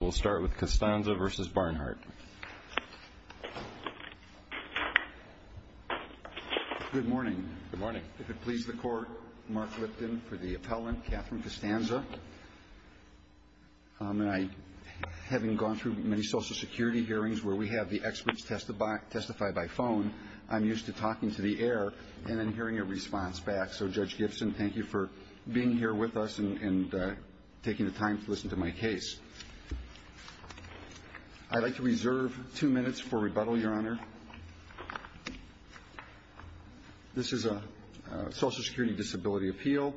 We'll start with Costanza v. Barnhart. Good morning. Good morning. If it pleases the Court, Mark Lipton for the appellant, Catherine Costanza. Having gone through many social security hearings where we have the experts testify by phone, I'm used to talking to the air and then hearing a response back. So, Judge Gibson, thank you for being here with us and taking the time to listen to my case. I'd like to reserve two minutes for rebuttal, Your Honor. This is a social security disability appeal.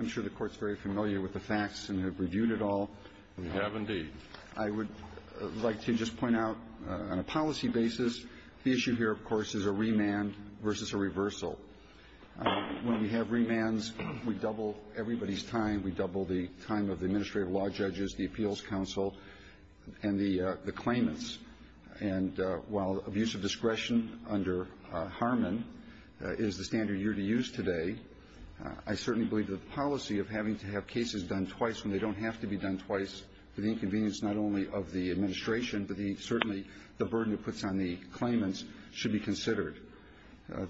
I'm sure the Court's very familiar with the facts and have reviewed it all. We have indeed. I would like to just point out on a policy basis, the issue here, of course, is a remand versus a reversal. When we have remands, we double everybody's time. We double the time of the administrative law judges, the appeals counsel, and the claimants. And while abuse of discretion under Harmon is the standard you're to use today, I certainly believe that the policy of having to have cases done twice when they don't have to be done twice, the inconvenience not only of the administration, but certainly the burden it puts on the claimants, should be considered.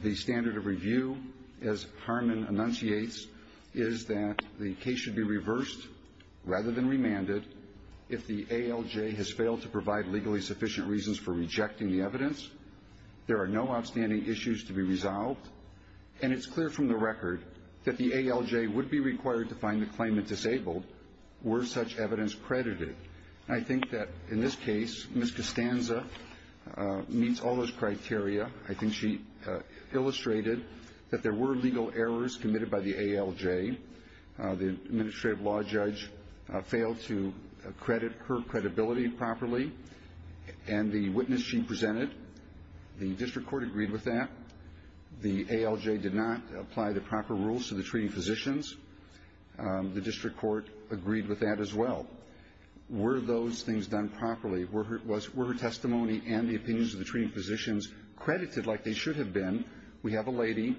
The standard of review, as Harmon enunciates, is that the case should be reversed rather than remanded. If the ALJ has failed to provide legally sufficient reasons for rejecting the evidence, there are no outstanding issues to be resolved. And it's clear from the record that the ALJ would be required to find the claimant disabled were such evidence credited. I think that in this case, Ms. Costanza meets all those criteria. She illustrated that there were legal errors committed by the ALJ. The administrative law judge failed to credit her credibility properly. And the witness she presented, the district court agreed with that. The ALJ did not apply the proper rules to the treating physicians. The district court agreed with that as well. Were those things done properly? Were her testimony and the opinions of the treating physicians credited like they should have been? We have a lady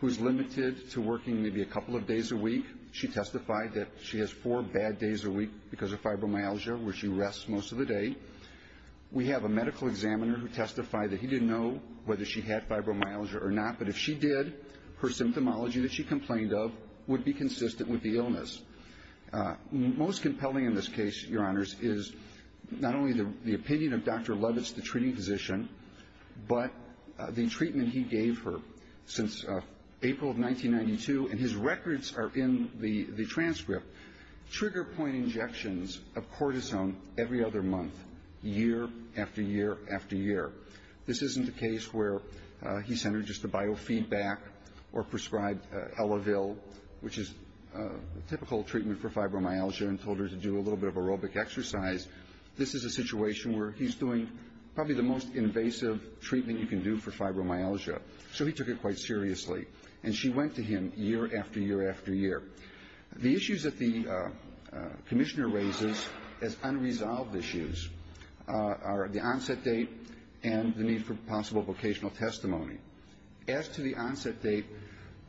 who's limited to working maybe a couple of days a week. She testified that she has four bad days a week because of fibromyalgia, where she rests most of the day. We have a medical examiner who testified that he didn't know whether she had fibromyalgia or not. But if she did, her symptomology that she complained of would be consistent with the illness. The most compelling in this case, Your Honors, is not only the opinion of Dr. Lovitz, the treating physician, but the treatment he gave her since April of 1992. And his records are in the transcript. Trigger point injections of cortisone every other month, year after year after year. This isn't a case where he sent her just the biofeedback or prescribed Elevil, which is typical treatment for fibromyalgia, and told her to do a little bit of aerobic exercise. This is a situation where he's doing probably the most invasive treatment you can do for fibromyalgia. So he took it quite seriously. And she went to him year after year after year. The issues that the commissioner raises as unresolved issues are the onset date and the need for possible vocational testimony. As to the onset date,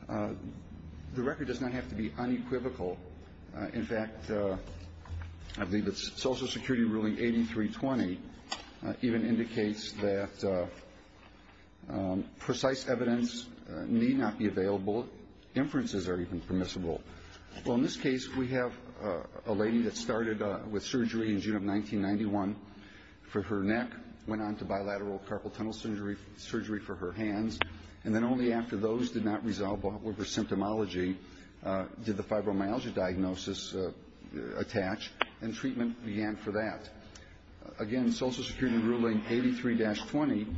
the record does not have to be unequivocal. In fact, I believe it's Social Security ruling 8320 even indicates that precise evidence need not be available. Inferences are even permissible. Well, in this case, we have a lady that started with surgery in June of 1991 for her neck, went on to bilateral carpal tunnel surgery for her hands. And then only after those did not resolve over symptomology did the fibromyalgia diagnosis attach, and treatment began for that. Again, Social Security ruling 83-20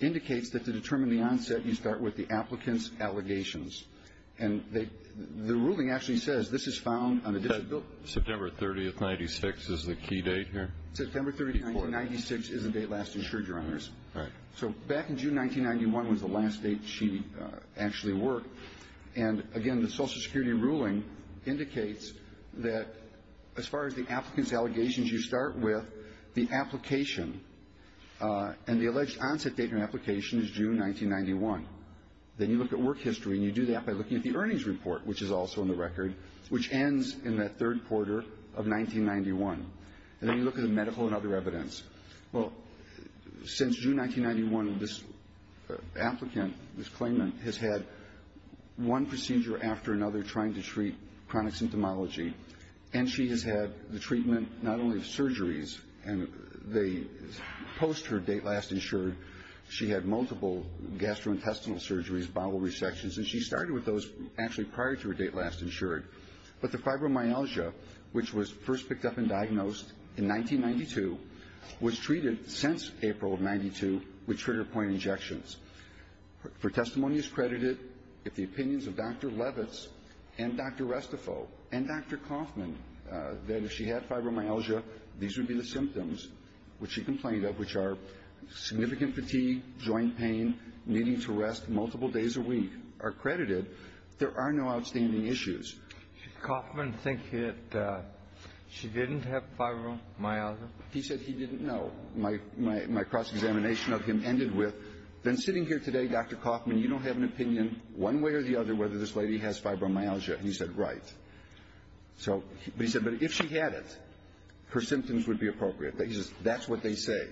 indicates that to determine the onset, you start with the applicant's allegations. And the ruling actually says this is found on a disability. September 30th, 96 is the key date here? September 30th, 96 is a date lasting surgery on this. Right. So back in June 1991 was the last date she actually worked. And again, the Social Security ruling indicates that as far as the applicant's allegations, you start with the application and the alleged onset date and application is June 1991. Then you look at work history and you do that by looking at the earnings report, which is also in the record, which ends in that third quarter of 1991. Then you look at the medical and other evidence. Well, since June 1991, this applicant, this claimant has had one procedure after another trying to treat chronic symptomology. And she has had the treatment not only of surgeries, and they post her date last insured, she had multiple gastrointestinal surgeries, bowel resections. And she started with those actually prior to her date last insured. But the fibromyalgia, which was first picked up and diagnosed in 1992, was treated since April of 92 with trigger point injections. Her testimony is credited with the opinions of Dr. Levitz and Dr. Restifov and Dr. Kaufman that if she had fibromyalgia, these would be the symptoms which she complained of, which are significant fatigue, joint pain, needing to rest multiple days a week are credited. There are no outstanding issues. Did Kaufman think that she didn't have fibromyalgia? He said he didn't know. My cross-examination of him ended with, been sitting here today, Dr. Kaufman, you don't have an opinion one way or the other whether this lady has fibromyalgia. He said, right. So he said, but if she had it, her symptoms would be appropriate. He says, that's what they say.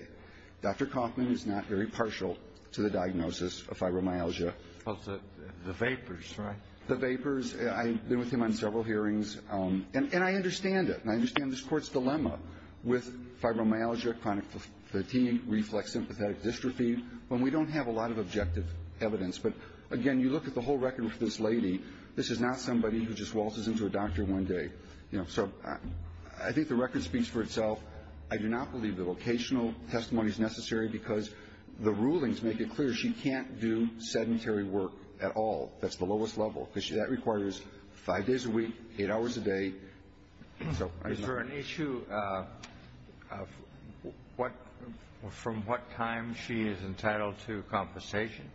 Dr. Kaufman is not very partial to the diagnosis of fibromyalgia. Of the vapors, right? The vapors. I've been with him on several hearings and I understand it and I understand this court's dilemma with fibromyalgia, chronic fatigue, reflex sympathetic dystrophy, when we don't have a lot of objective evidence. But again, you look at the whole record for this lady, this is not somebody who just waltzes into a doctor one day. So I think the record speaks for itself. I do not believe the vocational testimony is necessary because the rulings make it clear she can't do sedentary work at all. That's the lowest level because that requires five days a week, eight hours a day. Is there an issue from what time she is entitled to compensation?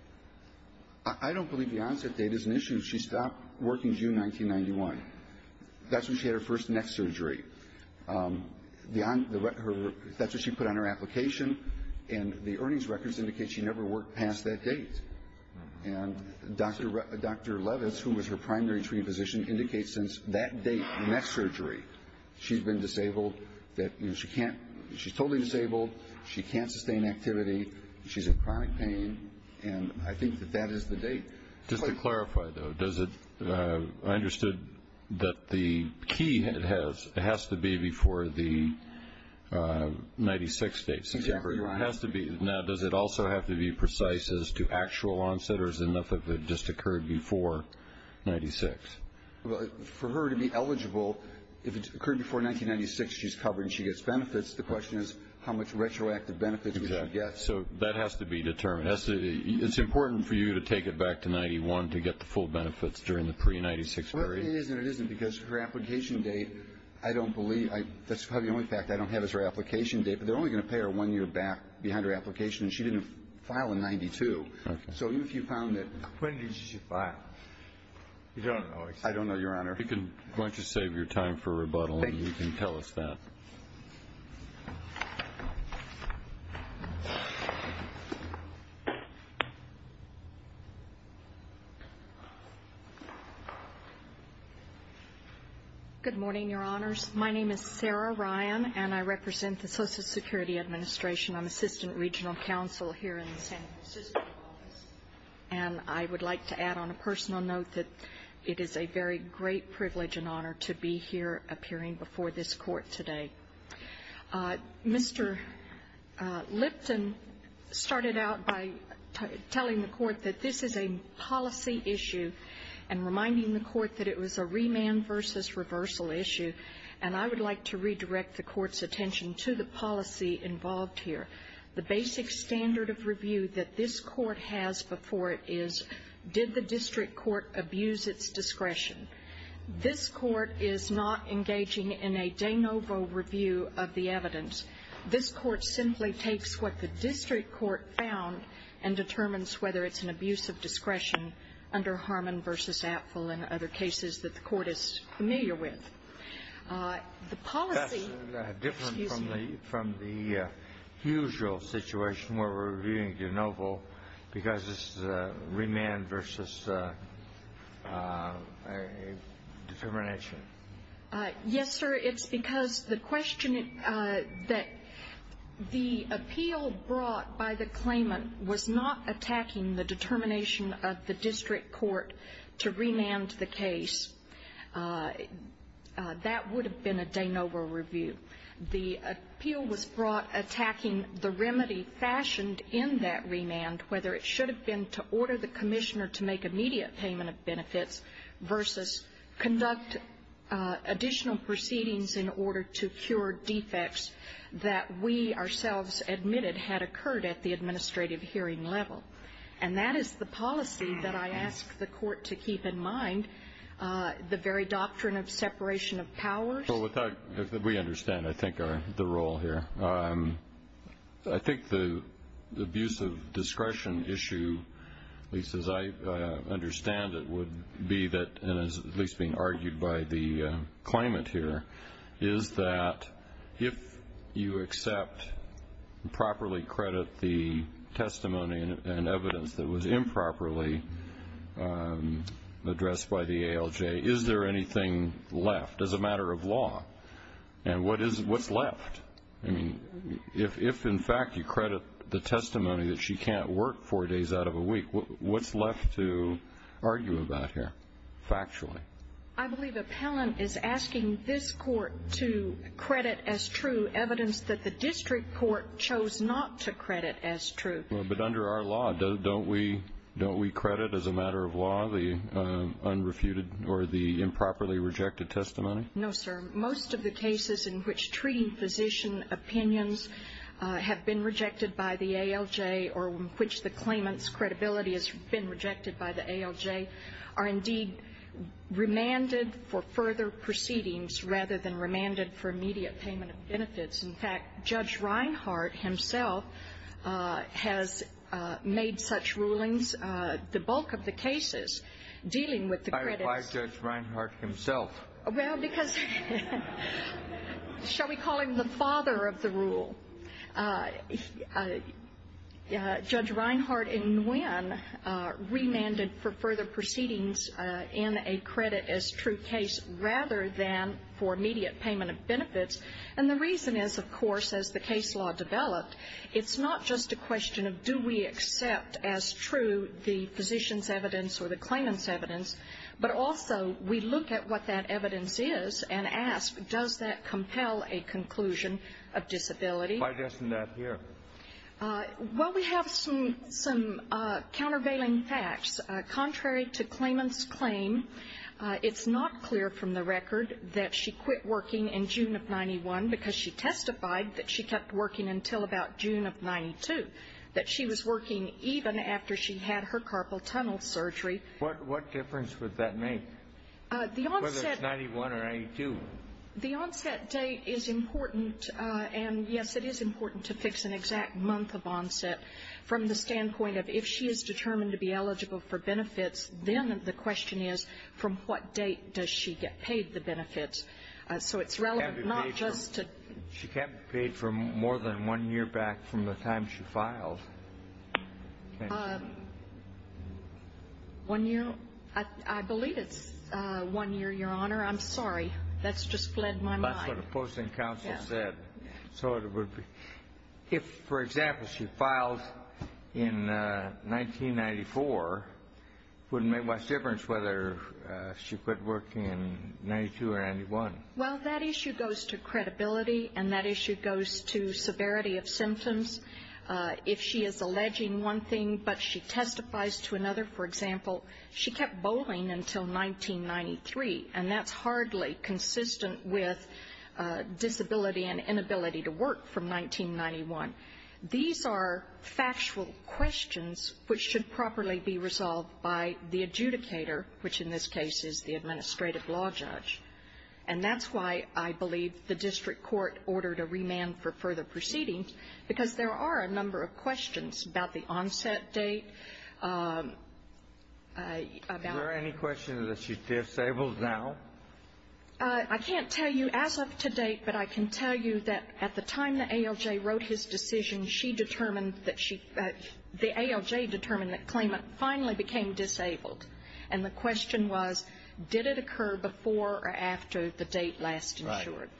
I don't believe the onset date is an issue. She stopped working June 1991. That's when she had her first neck surgery. That's what she put on her application and the earnings records indicate she never worked past that date. And Dr. Levitz, who was her primary treatment physician, indicates since that date, neck surgery, she's been disabled. She's totally disabled. She can't sustain activity. She's in chronic pain. And I think that that is the date. Just to clarify though, I understood that the key has to be before the 96 dates. Exactly right. Now, does it also have to be precise as to actual onset or is it enough if it just occurred before 96? For her to be eligible, if it occurred before 1996, she's covered and she gets benefits. The question is how much retroactive benefits are we going to get? So that has to be determined. It's important for you to take it back to 91 to get the full benefits during the pre-96 period. Well, it is and it isn't because her application date, I don't believe, that's probably the only fact I don't have is her application date, but they're only going to pay her one behind her application and she didn't file in 92. So if you found it... When did she file? We don't know. I don't know, Your Honor. You can, why don't you save your time for rebuttal and you can tell us that. Good morning, Your Honors. My name is Sarah Ryan and I represent the Social Security Administration. I'm Assistant Regional Counsel here in the San Francisco office. And I would like to add on a personal note that it is a very great privilege and honor to be here appearing before this Court today. Mr. Lipton started out by telling the Court that this is a policy issue and reminding the Court that it was a remand versus reversal issue. And I would like to redirect the Court's attention to the policy involved here. The basic standard of review that this Court has before it is, did the district court abuse its discretion? This Court is not engaging in a de novo review of the evidence. This Court simply takes what the district court found and determines whether it's an in other cases that the Court is familiar with. The policy... That's different from the usual situation where we're reviewing de novo because this is a remand versus a determination. Yes, sir. It's because the question that the appeal brought by the claimant was not attacking the determination of the district court to remand the case. That would have been a de novo review. The appeal was brought attacking the remedy fashioned in that remand, whether it should have been to order the commissioner to make immediate payment of benefits versus conduct additional proceedings in order to cure defects that we ourselves admitted had occurred at the administrative hearing level. That is the policy that I ask the Court to keep in mind, the very doctrine of separation of power. We understand, I think, the role here. I think the abuse of discretion issue, at least as I understand it, would be that, and as at least being argued by the claimant here, is that if you accept and properly credit the testimony and evidence that was improperly addressed by the ALJ, is there anything left as a matter of law? And what's left? If, in fact, you credit the testimony that she can't work four days out of a week, what's left to argue about here factually? I believe appellant is asking this Court to credit as true evidence that the district court chose not to credit as true. But under our law, don't we credit as a matter of law the unrefuted or the improperly rejected testimony? No, sir. Most of the cases in which treating physician opinions have been rejected by the ALJ or which the claimant's credibility has been rejected by the ALJ are indeed remanded for further proceedings rather than remanded for immediate payment of benefits. In fact, Judge Reinhardt himself has made such rulings, the bulk of the cases, dealing with the credits. Why Judge Reinhardt himself? Well, because, shall we call him the father of the rule? Judge Reinhardt in Nguyen remanded for further proceedings in a credit as true case rather than for immediate payment of benefits. And the reason is, of course, as the case law develops, it's not just a question of do we accept as true the physician's evidence or the claimant's evidence, but also we look at what that evidence is and ask, does that compel a conclusion of disability? Why doesn't that here? Well, we have some countervailing facts. Contrary to claimant's claim, it's not clear from the record that she quit working in June of 91 because she testified that she kept working until about June of 92, that she was working even after she had her carpal tunnel surgery. What difference would that make, whether it's 91 or 92? The onset date is important, and yes, it is important to fix an exact month of onset from the standpoint of if she is determined to be eligible for benefits, then the question is, so it's relevant not just to... She can't be paid for more than one year back from the time she filed. I believe it's one year, Your Honor. I'm sorry. That's just fled my mind. That's what the posting counsel said. If, for example, she filed in 1994, what's the difference whether she quit working in Well, that issue goes to credibility, and that issue goes to severity of symptoms. If she is alleging one thing but she testifies to another, for example, she kept bowling until 1993, and that's hardly consistent with disability and inability to work from 1991. These are factual questions which should properly be resolved by the adjudicator, which in this case is the administrative law judge. That's why I believe the district court ordered a remand for further proceedings, because there are a number of questions about the onset date. Are there any questions that she's disabled now? I can't tell you as of today, but I can tell you that at the time the ALJ wrote his decision, she determined that the ALJ determined that Clement finally became disabled. The question was, did it occur before or after the date last insured?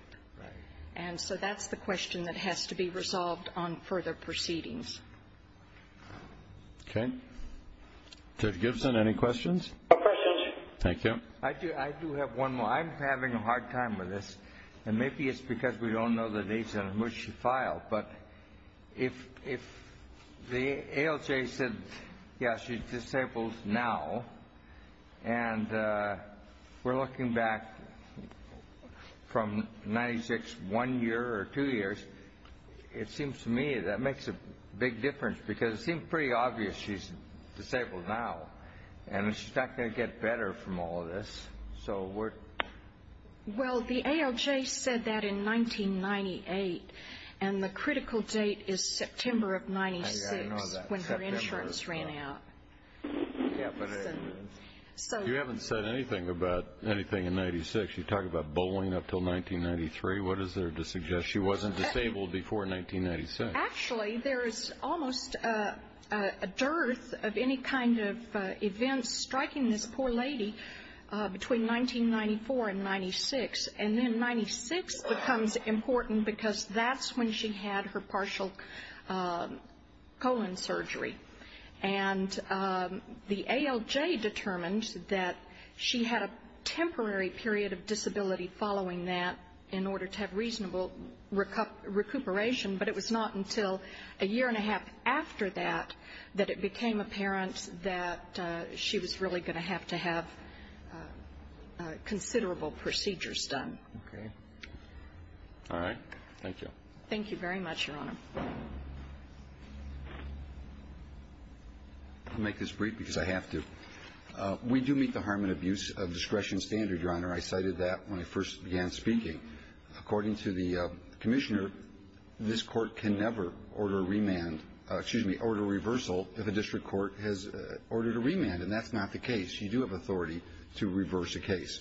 That's the question that has to be resolved on further proceedings. Judge Gibson, any questions? No questions. Thank you. I do have one more. I'm having a hard time with this, and maybe it's because we don't know the dates on which she became disabled. The ALJ said, yes, she's disabled now, and we're looking back from 1996, one year or two years. It seems to me that makes a big difference, because it seems pretty obvious she's disabled now, and she's not going to get better from all of this. Well, the ALJ said that in 1998, and the critical date is September of 1996 when her insurance ran out. You haven't said anything about anything in 1996. You talk about bowling up until 1993. What is there to suggest she wasn't disabled before 1996? Actually, there is almost a dearth of any kind of events striking this poor lady between 1994 and 1996, and then 1996 becomes important because that's when she had her partial colon surgery. The ALJ determined that she had a temporary period of disability following that in order to have reasonable recuperation, but it was not until a year and a half after that that it became apparent that she was really going to have to have considerable procedures done. All right. Thank you. Thank you very much, Your Honor. I'll make this brief because I have to. We do meet the harm and abuse of discretion standard, Your Honor. I cited that when I first began speaking. According to the commissioner, this court can never order remand, excuse me, order reversal if a district court has ordered a remand, and that's not the case. You do have authority to reverse a case.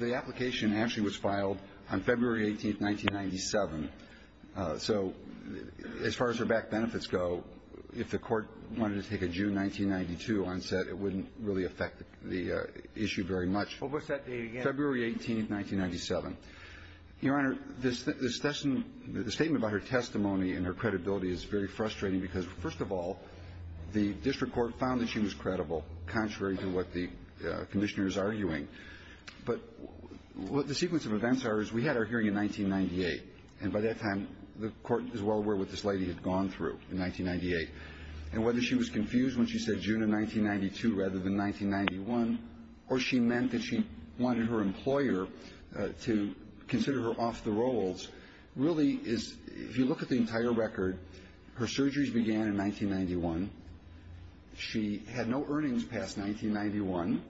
The application actually was filed on February 18, 1997, so as far as her back benefits go, if the court wanted to take a June 1992 onset, it wouldn't really affect the issue very much. Well, what's that date again? February 18, 1997. Your Honor, the statement about her testimony and her credibility is very frustrating because, first of all, the district court found that she was credible, contrary to what the commissioner is arguing. But what the sequence of events are is we had our hearing in 1998, and by that time, the court is well aware what this lady had gone through in 1998. And whether she was confused when she said June of 1992 rather than 1991, or she meant that she wanted her employer to consider her off the rolls really is, if you look at the entire record, her surgeries began in 1991. She had no earnings past 1991,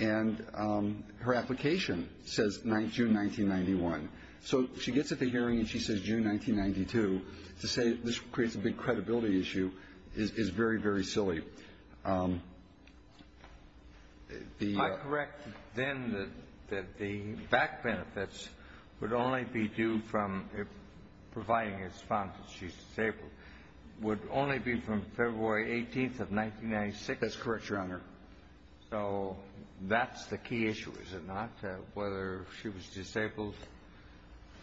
and her application says June 1991. So she gets at the hearing and she says June 1992. To say this creates a big credibility issue is very, very silly. I correct, then, that the back benefits would only be due from providing a response if she's disabled would only be from February 18 of 1996. That's correct, Your Honor. So that's the key issue, is it not? Whether she was disabled,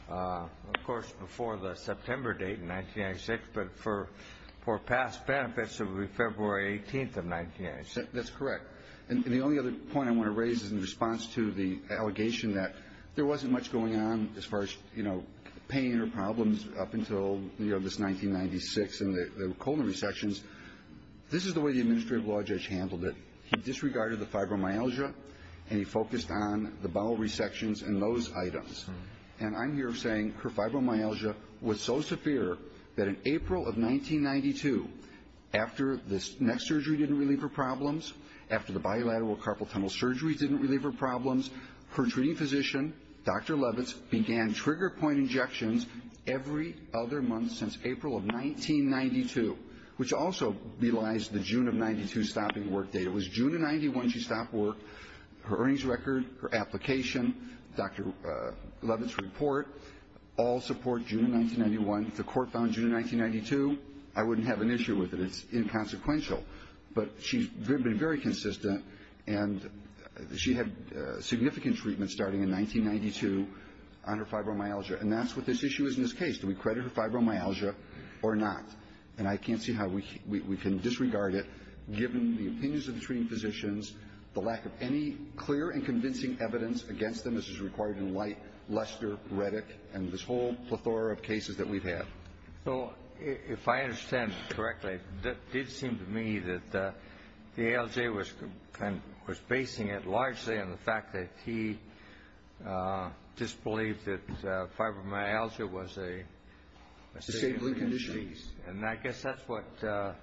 of course, before the September date in 1996, but for past benefits, it would be February 18 of 1996. That's correct. And the only other point I want to raise is in response to the allegation that there wasn't much going on as far as, you know, pain or problems up until, you know, this 1996 and the colon resections. This is the way the administrative law judge handled it. He disregarded the fibromyalgia and he focused on the bowel resections and those items. And I'm here saying her fibromyalgia was so severe that in April of 1992, after this next surgery didn't relieve her problems, after the bilateral carpal tunnel surgery didn't relieve her problems, her treating physician, Dr. Levitz, began trigger point injections every other month since April of 1992, which also belies the June of 92 stopping work date. It was June of 91 she stopped work. Her earnings record, her application, Dr. Levitz's report, all support June 1991. The court found June 1992. I wouldn't have an issue with it. It's inconsequential. But she's been very consistent and she had significant treatment starting in 1992 on her fibromyalgia. And that's what this issue is in this case. Do we credit her fibromyalgia or not? And I can't see how we can disregard it given the opinions of the treating physicians, the lack of any clear and convincing evidence against them. This is required in light Lester, Reddit, and this whole plethora of cases that we've had. So if I understand correctly, it did seem to me that the ALJ was facing it largely in the fact that he disbelieved that fibromyalgia was a condition. And I guess that's what Dr.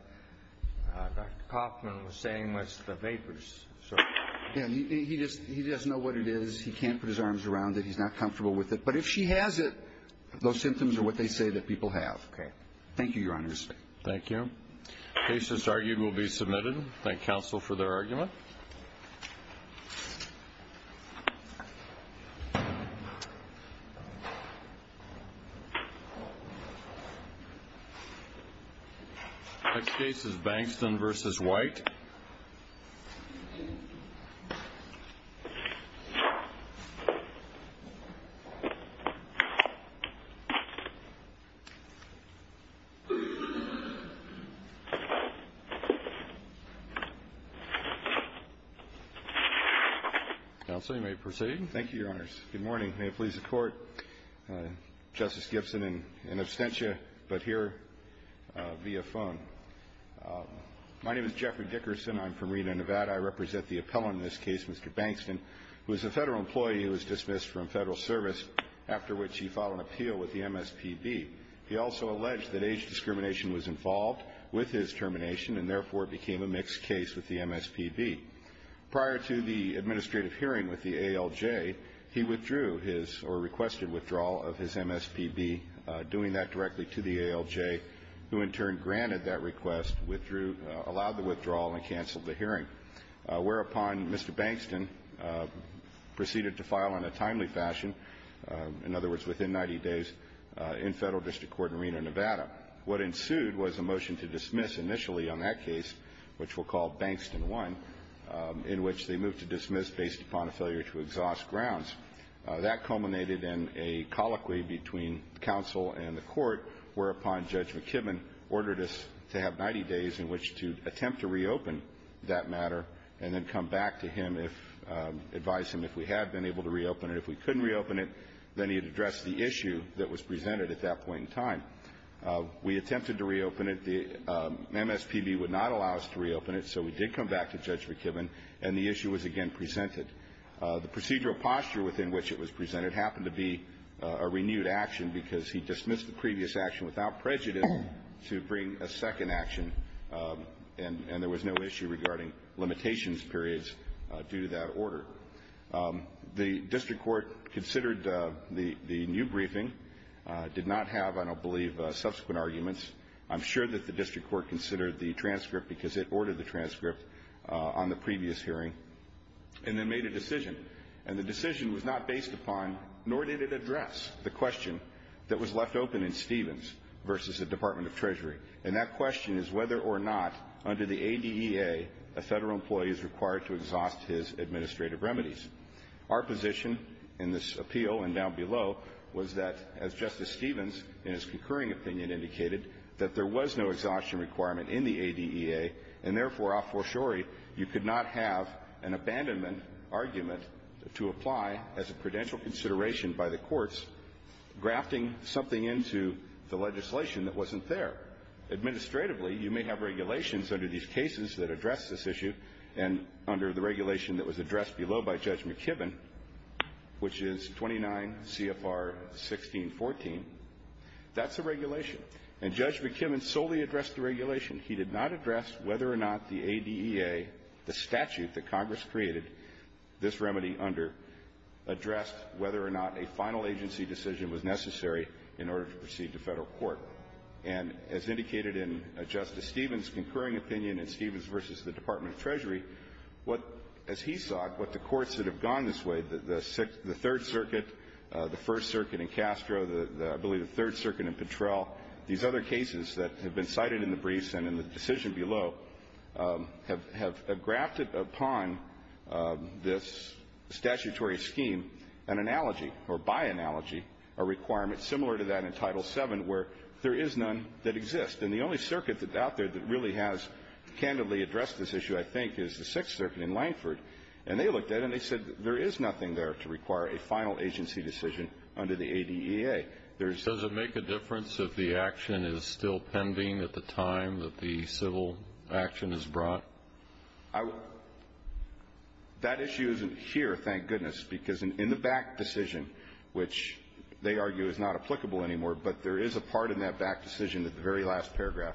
Kaufman was saying was the vapors. He doesn't know what it is. He can't put his arms around it. He's not comfortable with it. But if she has it, those symptoms are what they say that people have. Okay. Thank you, Your Honor. Thank you. Case that's argued will be submitted. Thank counsel for their argument. Next case is Bankston v. White. Counsel, you may proceed. Thank you, Your Honors. Good morning. May it please the Court, Justice Gibson in absentia but here via phone. My name is Jeffrey Dickerson. I'm from Reno, Nevada. I represent the appellant in this case, Mr. Bankston, who is a federal employee who was dismissed from federal service after which he filed an appeal with the MSPB. He also alleged that age discrimination was involved with his termination and therefore became a mixed case with the MSPB. Prior to the administrative hearing with the ALJ, he withdrew his or requested withdrawal of his MSPB, doing that directly to the ALJ, who in turn granted that request, allowed the withdrawal, and canceled the hearing. Whereupon, Mr. Bankston proceeded to file in a timely fashion, in other words, within 90 days, in federal district court in Reno, Nevada. What ensued was a motion to dismiss initially on that case, which we'll call Bankston 1, in which they moved to dismiss based upon failure to exhaust grounds. That culminated in a colloquy between counsel and the court, whereupon Judge McKibben ordered to have 90 days in which to attempt to reopen that matter and then come back to him, advise him if we have been able to reopen it. If we couldn't reopen it, then he'd address the issue that was presented at that point in time. We attempted to reopen it. The MSPB would not allow us to reopen it, so we did come back to Judge McKibben, and the issue was again presented. The procedural posture within which it was presented happened to be a renewed action because he dismissed the previous action without prejudice to bring a second action, and there was no issue regarding limitations periods due to that order. The district court considered the new briefing, did not have, I don't believe, subsequent arguments. I'm sure that the district court considered the transcript because it ordered the transcript on the previous hearing, and then made a decision. And the decision was not based upon nor did it address the question that was left open in Stevens versus the Department of Treasury, and that question is whether or not under the ADEA a federal employee is required to exhaust his administrative remedies. Our position in this appeal and down below was that, as Justice Stevens in his concurring opinion indicated, that there was no exhaustion requirement in the ADEA, and therefore, a argument to apply as a credential consideration by the courts, grafting something into the legislation that wasn't there. Administratively, you may have regulations under these cases that address this issue, and under the regulation that was addressed below by Judge McKibben, which is 29 CFR 1614, that's a regulation. And Judge McKibben solely addressed the regulation. He did not address whether or not the ADEA, the statute that Congress created this remedy under, addressed whether or not a final agency decision was necessary in order to proceed to federal court. And as indicated in Justice Stevens' concurring opinion in Stevens versus the Department of Treasury, what, as he saw it, what the courts that have gone this way, the Third Circuit, the First Circuit in Castro, I believe the Third Circuit in Petrel, these other cases that have been cited in the briefs and in the decision below, have grafted upon this statutory scheme an analogy, or by analogy, a requirement similar to that in Title VII where there is none that exists. And the only circuit that's out there that really has candidly addressed this issue, I think, is the Sixth Circuit in Lankford. And they looked at it and they said, there is nothing there to require a final agency decision under the ADEA. Does it make a difference if the action is still pending at the time that the civil action is brought? That issue isn't here, thank goodness. Because in the back decision, which they argue is not applicable anymore, but there is a part in that back decision, the very last paragraph,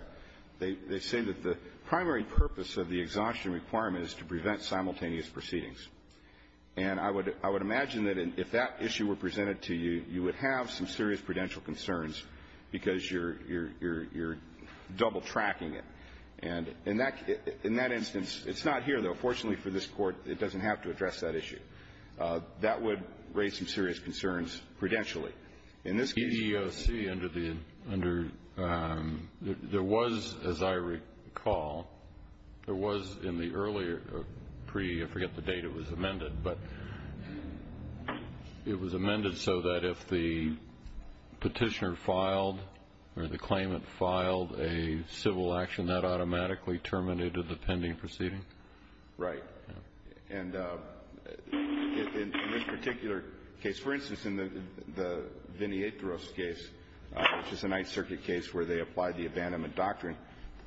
they say that the primary purpose of the exhaustion requirement is to prevent simultaneous proceedings. And I would imagine that if that issue were presented to you, you would have some serious prudential concerns because you're double-tracking it. And in that instance, it's not here, though. Fortunately for this Court, it doesn't have to address that issue. That would raise some serious concerns prudentially. In this case... Under... There was, as I recall, there was in the earlier pre... I forget the date it was amended. But it was amended so that if the petitioner filed or the claimant filed a civil action, that automatically terminated the pending proceeding? Right. And in this particular case... For instance, in the Viniatris case, which is a Ninth Circuit case where they applied the abandonment doctrine.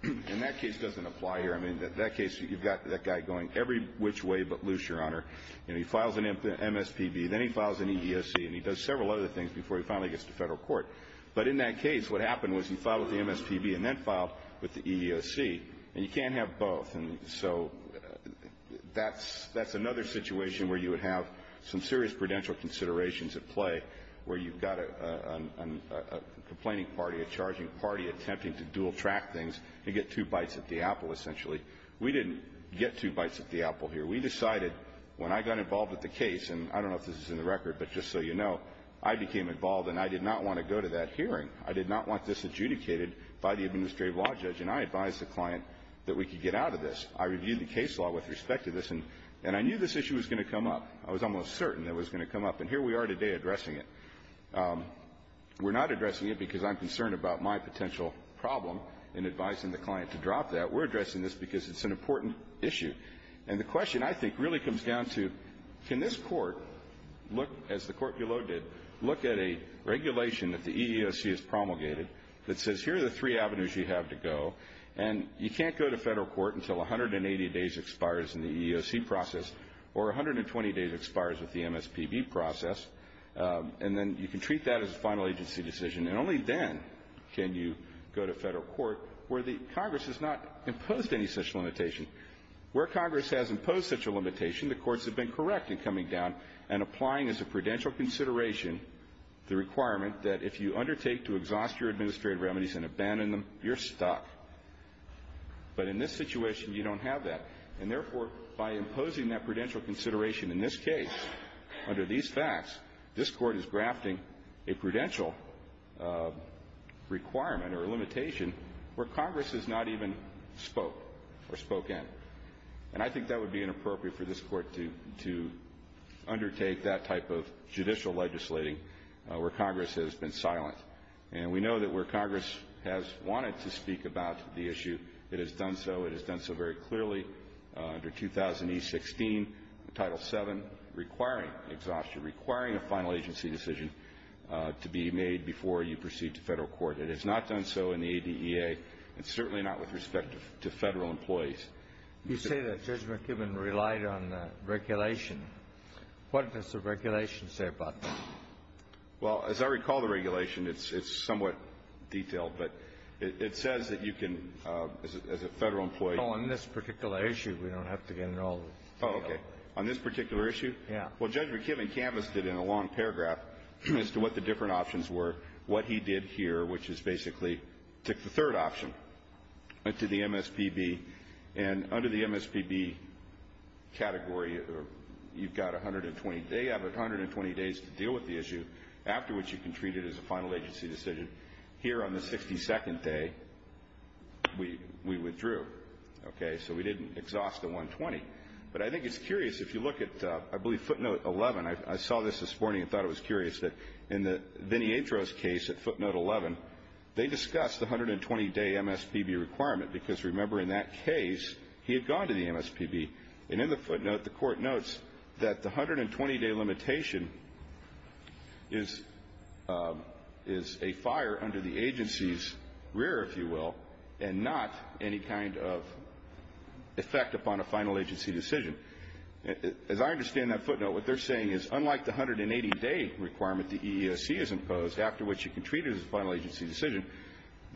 And that case doesn't apply here. I mean, in that case, you've got that guy going every which way but loose, Your Honor. And he files an MSPB, then he files an EDSC, and he does several other things before he finally gets to federal court. But in that case, what happened was he filed the MSPB and then filed with the EDSC. And you can't have both. So that's another situation where you would have some serious prudential considerations at play where you've got a complaining party, a charging party attempting to dual track things to get two bites at the apple, essentially. We didn't get two bites at the apple here. We decided when I got involved with the case, and I don't know if this is in the record, but just so you know, I became involved and I did not want to go to that hearing. I did not want this adjudicated by the administrative law judge. And I advised the client that we could get out of this. I reviewed the case law with respect to this. And I knew this issue was going to come up. I was almost certain it was going to come up. And here we are today addressing it. We're not addressing it because I'm concerned about my potential problem in advising the client to drop that. We're addressing this because it's an important issue. And the question, I think, really comes down to, can this court, as the court below did, look at a regulation that the EDSC has promulgated that says, here are the three avenues you have to go. And you can't go to federal court until 180 days expires in the EEOC process or 120 days expires with the MSPB process. And then you can treat that as a final agency decision. And only then can you go to federal court where the Congress has not imposed any such limitation. Where Congress has imposed such a limitation, the courts have been correct in coming down and applying as a prudential consideration the requirement that if you undertake to stop, but in this situation, you don't have that. And therefore, by imposing that prudential consideration in this case, under these facts, this court is grafting a prudential requirement or limitation where Congress has not even spoke or spoke in. And I think that would be inappropriate for this court to undertake that type of judicial legislating where Congress has been silent. And we know that where Congress has wanted to speak about the issue, it has done so. It has done so very clearly under 2016, Title VII, requiring exhaustion, requiring a final agency decision to be made before you proceed to federal court. It has not done so in the ADEA, and certainly not with respect to federal employees. MR. BOUTROUS. You say that Judge McKibben relied on regulation. What does the regulation say about that? MR. BOUTROUS. It's somewhat detailed, but it says that you can, as a federal employee – MR. KAMINSKI. On this particular issue, we don't have to get involved. MR. BOUTROUS. Oh, okay. On this particular issue? MR. KAMINSKI. Yes. MR. BOUTROUS. Well, Judge McKibben canvassed it in a long paragraph as to what the different options were. What he did here, which is basically took the third option, went to the MSPB, and under the MSPB category, you've got 120 days to deal with the issue, after which you can treat it as a final agency decision. Here, on the 62nd day, we withdrew, okay? So we didn't exhaust the 120. But I think it's curious, if you look at, I believe, footnote 11 – I saw this this morning and thought it was curious – that in the Vinietro's case at footnote 11, they discussed the 120-day MSPB requirement, because remember, in that case, he had gone to the MSPB. And in the footnote, the Court notes that the 120-day limitation is a fire under the agency's rear, if you will, and not any kind of effect upon a final agency decision. As I understand that footnote, what they're saying is, unlike the 180-day requirement the EEOC has imposed, after which you can treat it as a final agency decision,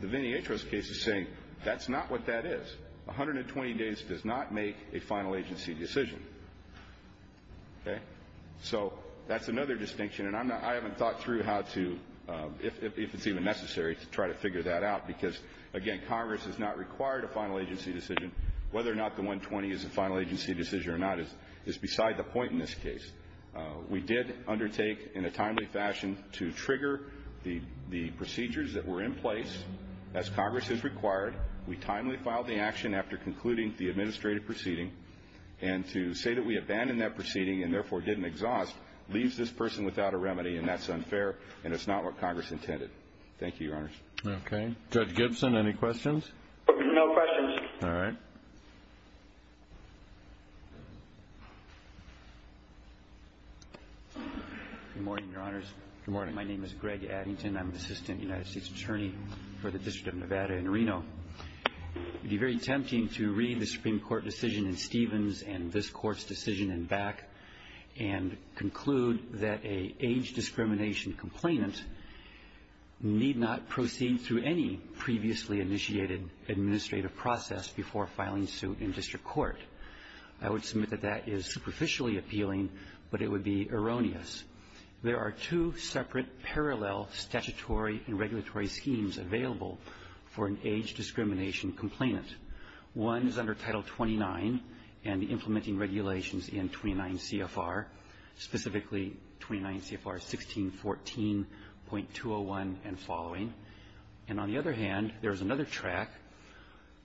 the Vinietro's case is saying that's not what that is. 120 days does not make a final agency decision, okay? So that's another distinction, and I'm not – I haven't thought through how to – if it's even necessary to try to figure that out, because again, Congress has not required a final agency decision. Whether or not the 120 is a final agency decision or not is beside the point in this case. We did undertake, in a timely fashion, to trigger the procedures that were in place as Congress has required. We timely filed the action after concluding the administrative proceeding. And to say that we abandoned that proceeding and therefore didn't exhaust leaves this person without a remedy, and that's unfair, and it's not what Congress intended. Thank you, Your Honors. Okay. Greg Gibson, any questions? No questions. All right. Good morning, Your Honors. Good morning. My name is Greg Addington. I'm an assistant United States attorney for the District of Nevada in Reno. It would be very tempting to read the Supreme Court decision in Stevens and this court's decision in Beck and conclude that an age discrimination complainant need not proceed through any previously initiated administrative process before filing suit in district court. I would submit that that is superficially appealing, but it would be erroneous. There are two separate parallel statutory and regulatory schemes available for an age discrimination complainant. One is under Title 29 and implementing regulations in 29 CFR, specifically 29 CFR 1614.201 and following. And on the other hand, there's another track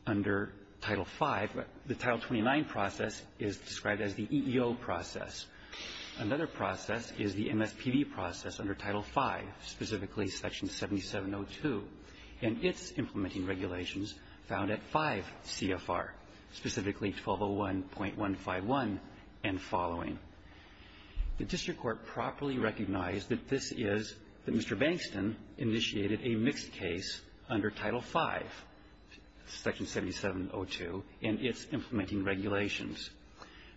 under Title 5. The Title 29 process is described as the EEO process. Another process is the MSPB process under Title 5, specifically Section 7702 and its implementing regulations found at 5 CFR, specifically 1201.151 and following. The district court properly recognized that this is that Mr. Bankston initiated a mixed case under Title 5, Section 7702 and its implementing regulations.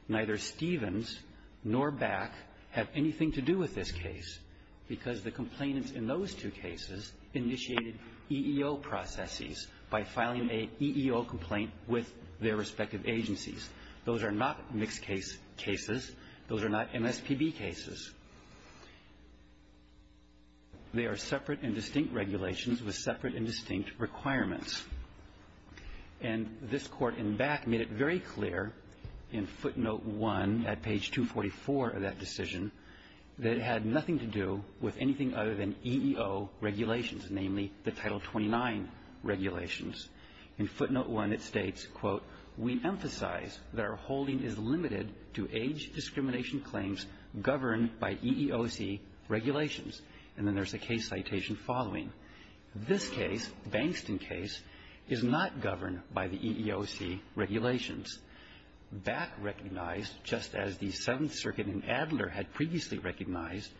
Neither Stevens nor Beck have anything to do with this case because the complainants in those two cases initiated EEO processes by filing an EEO complaint with their respective agencies. Those are not mixed case cases. Those are not MSPB cases. They are separate and distinct regulations with separate and distinct requirements. And this court in Beck made it very clear in footnote 1 at page 244 of that decision that it had nothing to do with anything other than EEO regulations, namely the Title 29 regulations. In footnote 1, it states, quote, we emphasize that our holding is limited to age discrimination claims governed by EEOC regulations. And then there's a case citation following. This case, Bankston case, is not governed by the EEOC regulations. That recognized just as the Seventh Circuit in Adler had previously recognized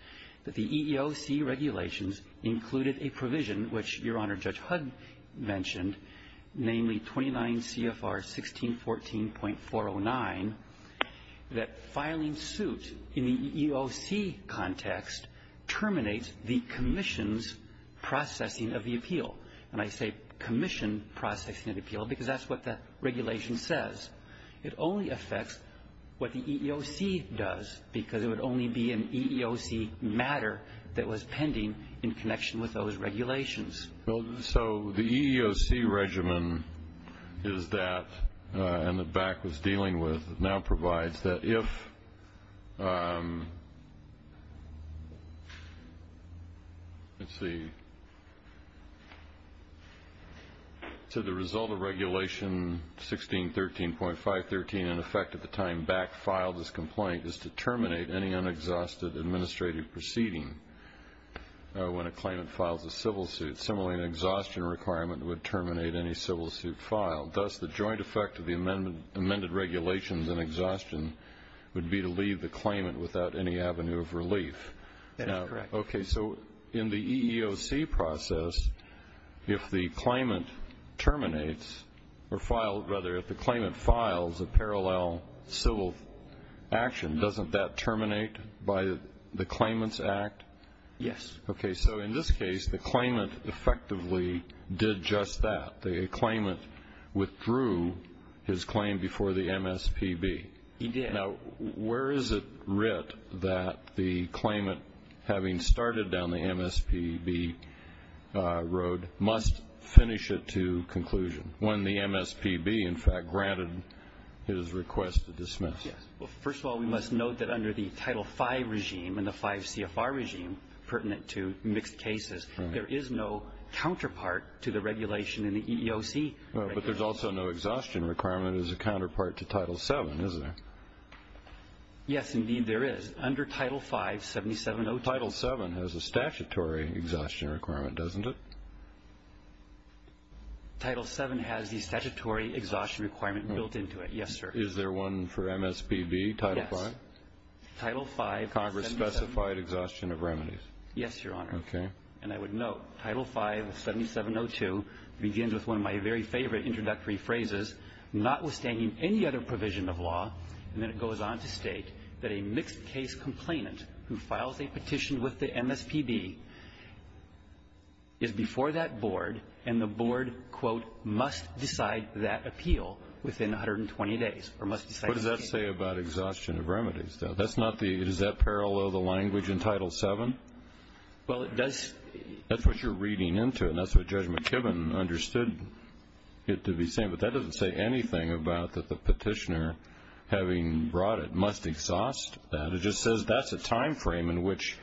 that the EEOC regulations included a provision which Your Honor Judge Hudd mentioned, namely 29 processing of the appeal. And I say commission processing of the appeal because that's what that regulation says. It only affects what the EEOC does because it would only be an EEOC matter that was pending in connection with those regulations. So the EEOC regimen is that, and that Beck was dealing with, now provides that if, let's see, so the result of Regulation 1613.513 in effect at the time Beck filed this complaint is to terminate any unexhausted administrative proceeding when a claimant files a civil suit. Similarly, an exhaustion requirement would terminate any civil suit filed. Thus, the joint effect of the amended regulations and exhaustion would be to leave the claimant without any avenue of relief. That's correct. Okay, so in the EEOC process, if the claimant terminates or filed, rather if the claimant files a parallel civil action, doesn't that terminate by the claimant's act? Yes. Okay, so in this case, the claimant effectively did just that. The claimant withdrew his claim before the MSPB. He did. Now, where is it writ that the claimant having started down the MSPB road must finish it to conclusion when the MSPB in fact granted his request to dismiss? Yes, well, first of all, we must note that under the Title V regime and the V CFR regime, pertinent to mixed cases, there is no counterpart to the regulation in the EEOC. But there's also no exhaustion requirement as a counterpart to Title VII, is there? Yes, indeed, there is. Under Title V, 7702. Title VII has a statutory exhaustion requirement, doesn't it? Title VII has the statutory exhaustion requirement built into it. Yes, sir. Is there one for MSPB, Title V? Yes, Title V. Congress specified exhaustion of remedies. Yes, Your Honor. Okay. And I would note, Title V, 7702 begins with one of my very favorite introductory phrases, notwithstanding any other provision of law, and then it goes on to state that a mixed case complainant who files a petition with the MSPB is before that board and the board, quote, must decide that appeal within 120 days or must decide the case. What does that say about exhaustion of remedies, though? Does that parallel the language in Title VII? Well, that's what you're reading into, and that's what Judge McKibben understood it to be saying. But that doesn't say anything about the petitioner having brought it must exhaust that. It just says that's a timeframe in which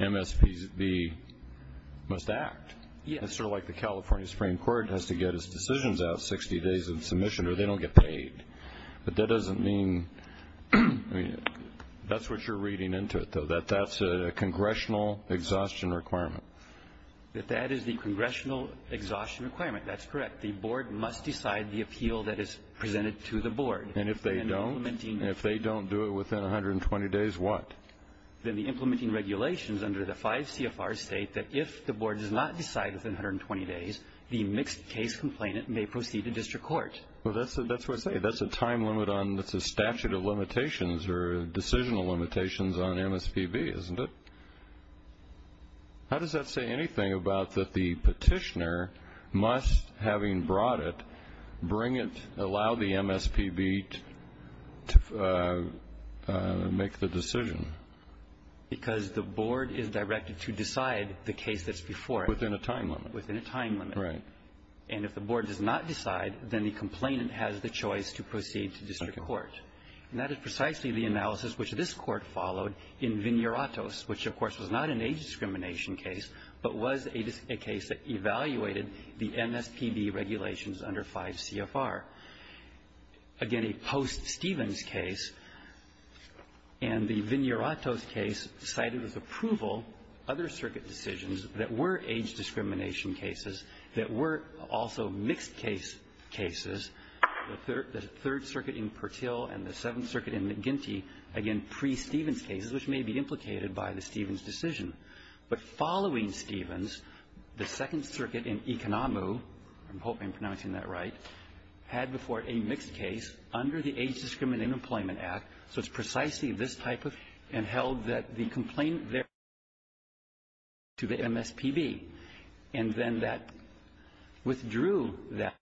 MSPB must act. Yes. Sort of like the California Supreme Court has to get its decisions out 60 days in submission, or they don't get paid. But that doesn't mean that's what you're reading into it, though, that that's a congressional exhaustion requirement. That that is the congressional exhaustion requirement. That's correct. The board must decide the appeal that is presented to the board. And if they don't do it within 120 days, what? Then the implementing regulations under the 5 CFR state that if the board does not decide within 120 days, the mixed case complainant may proceed to district court. Well, that's what it says. That's a statute of limitations or decisional limitations on MSPB, isn't it? How does that say anything about that the petitioner must, having brought it, bring it, allow the MSPB to make the decision? Because the board is directed to decide the case that's before it. Within a time limit. Within a time limit. Right. And if the board does not decide, then the complainant has the choice to proceed to district court. And that is precisely the analysis which this court followed in Vineratos, which, of course, was not an age discrimination case, but was a case that evaluated the MSPB regulations under 5 CFR. Again, a post-Stevens case. And the Vineratos case cited with approval other circuit decisions that were age discrimination cases that were also mixed case cases. The Third Circuit in Pertil and the Seventh Circuit in McGinty, again, pre-Stevens cases, which may be implicated by the Stevens decision. But following Stevens, the Second Circuit in Ikanamu, I'm hoping I'm pronouncing that right, had before it a mixed case under the Age Discrimination Employment Act. So it's precisely this type of case and held that the complainant there was not subject to the MSPB. And then that withdrew that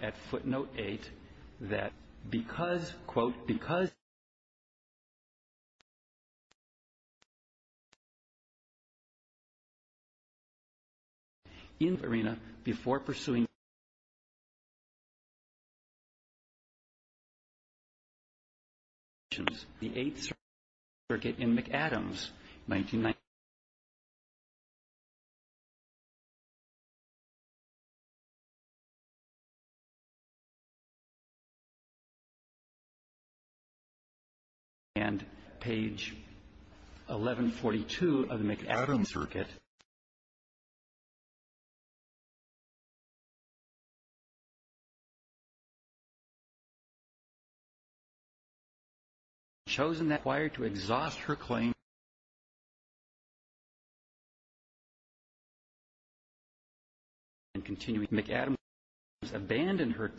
at footnote 8, that because, quote, because the complainant was not subject to the MSPB. In Vineratos, before pursuing the regulations, the Eighth Circuit in McAdams, and page 1142 of the McAdams circuit, chosen that fire to exhaust her claim and continue McAdams, abandoned her.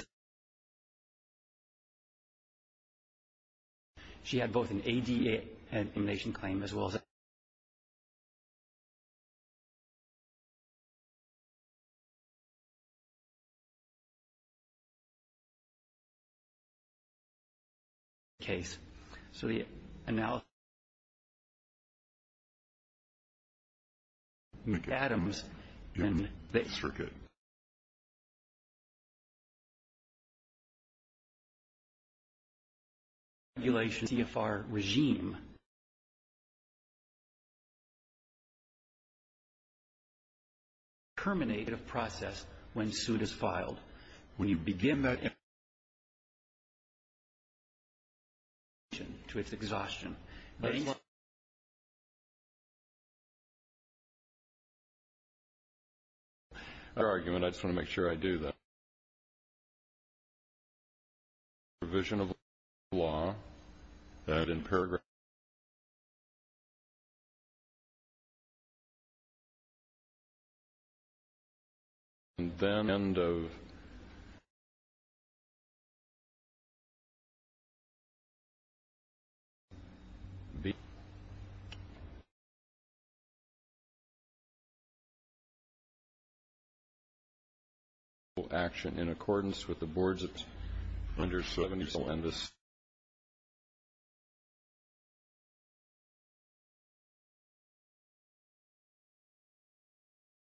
She had both an ADA information claim as well as a case. So the analysis of the regulation EFR regime terminated a process when suit is filed. When you begin that to its exhaustion, but you know, our argument, I just want to make sure I do that. Provision of law and in paragraph and then end of the action in accordance with the boards. It's under 70. So on this,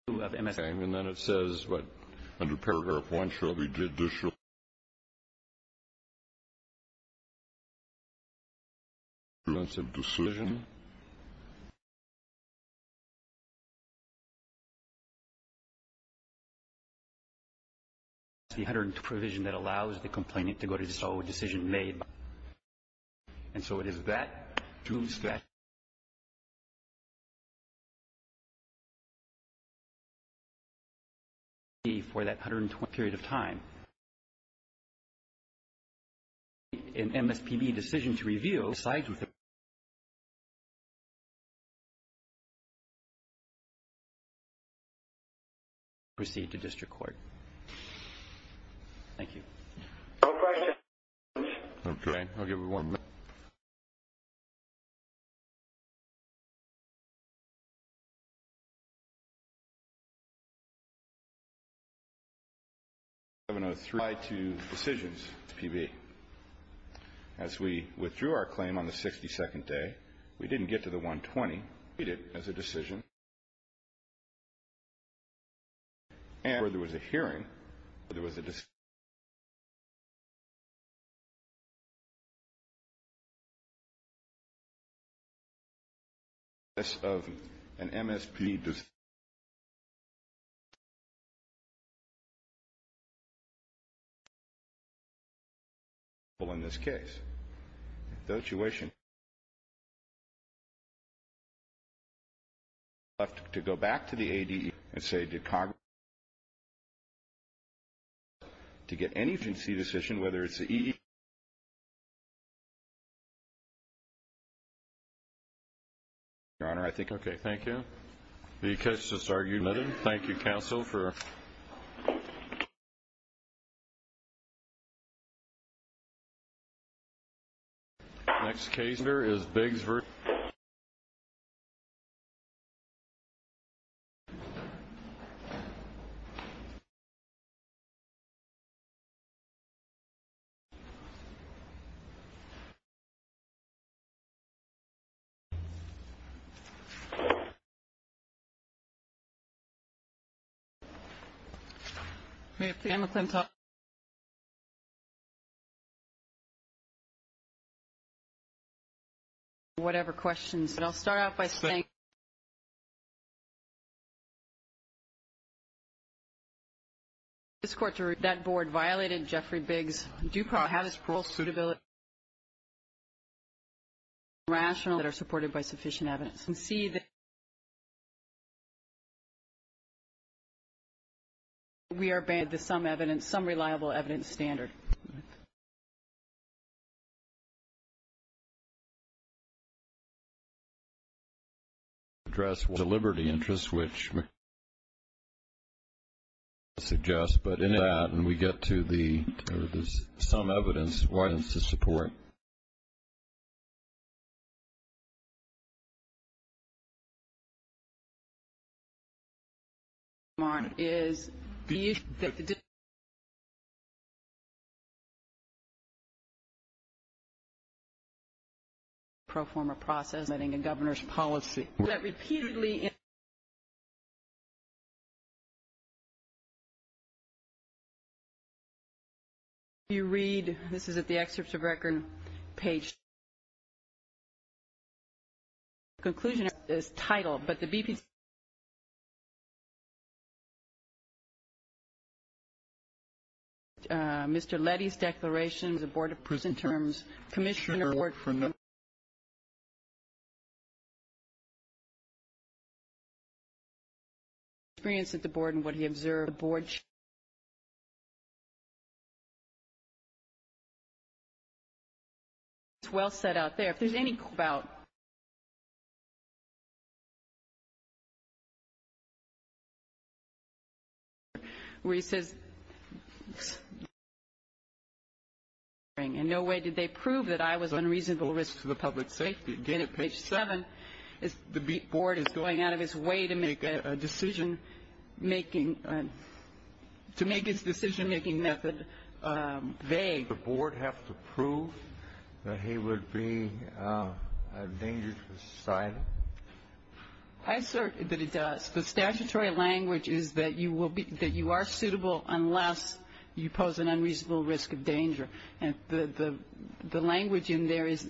and then it says, what, under paragraph one, should we did this. The decision that allows the complainant to go to solve a decision made. And so it is that for that period of time an MFPB decision to review received the district court. Thank you. Okay, I'll give you one. I'm gonna try to decisions as we withdrew our claim on the 62nd day, we didn't get to the one 20 as a decision and where there was a hearing, but there was a this of an MSP on this case, don't you wish to go back to the AD and say, to get any decision, whether it's your honor, I think. Okay, thank you. Because this argument, thank you counsel for Oh, This is caser is Biggs for you you you you you you Whatever questions, but I'll start off by saying you This quarter that board violated Jeffrey Biggs Dupont has a school suitability Rational that are supported by sufficient evidence and see that We are bad to some evidence some reliable evidence standard Address will deliver the interest which Suggests, but in that and we get to the some evidence why it's a support On is You Perform a process letting the governor's policy that repeatedly You read this is at the excerpts of record page Conclusion is title, but the deep You mr.. Lettie's declaration the board of prison terms commissioner work for you Experience at the board and what he observed the board Well set out there, there's any about You We said And no way did they prove that I was on reasonable risk to the public safety did it page seven It's the beat board is going out of its way to make a decision making To make its decision-making method They the board have to prove that he would be Dangerous I've heard that it does the statutory language is that you will be that you are suitable unless you pose an unreasonable risk of danger and the Language in there is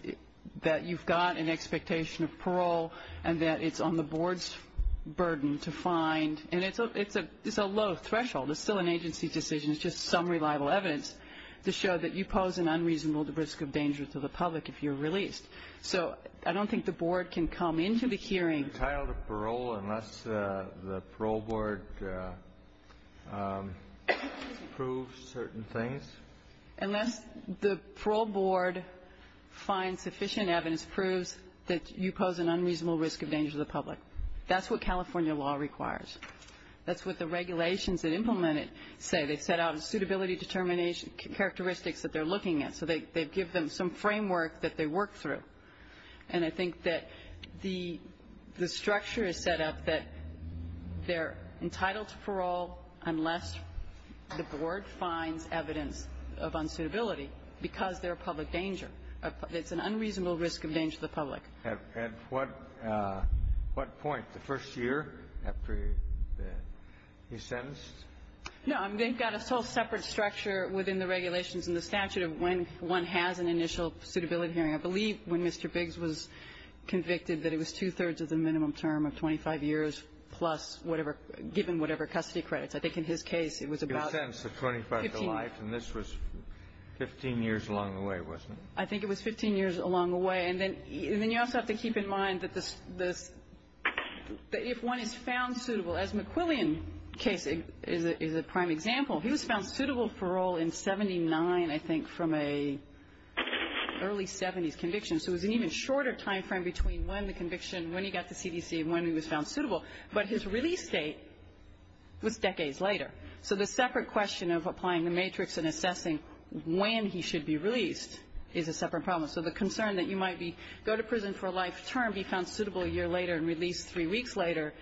that you've got an expectation of parole and that it's on the board's Burden to find and it's a it's a it's a low threshold It's still an agency decision is just some reliable evidence To show that you pose an unreasonable the risk of danger to the public if you're released So I don't think the board can come into the hearing The parole board Proves certain things and then the parole board Find sufficient evidence proves that you pose an unreasonable risk of danger to the public. That's what California law requires That's what the regulations that implement it say they set out a suitability determination characteristics that they're looking at so they give them some framework that they work through and I think that the the structure is set up that They're entitled to parole unless The board finds evidence of unsuitability because they're a public danger It's an unreasonable risk of danger to the public and what? What point the first year after He sentenced No, I'm they've got a whole separate structure within the regulations in the statute of when one has an initial suitability hearing I believe when mr. Biggs was Convicted that it was two-thirds of the minimum term of 25 years plus whatever given whatever custody credits I think in his case it was about the 20 bucks a life and this was 15 years along the way wasn't I think it was 15 years along the way and then you also have to keep in mind that the If one is found suitable as McQuillian case is a prime example he was found suitable for all in 79, I think from a early 70s conviction So it's an even shorter time frame between when the conviction when he got the CDC when he was found suitable, but his release date With decades later. So the separate question of applying the matrix and assessing when he should be released is a separate problem So the concern that you might be go to prison for a life term be found suitable a year later and released three weeks Later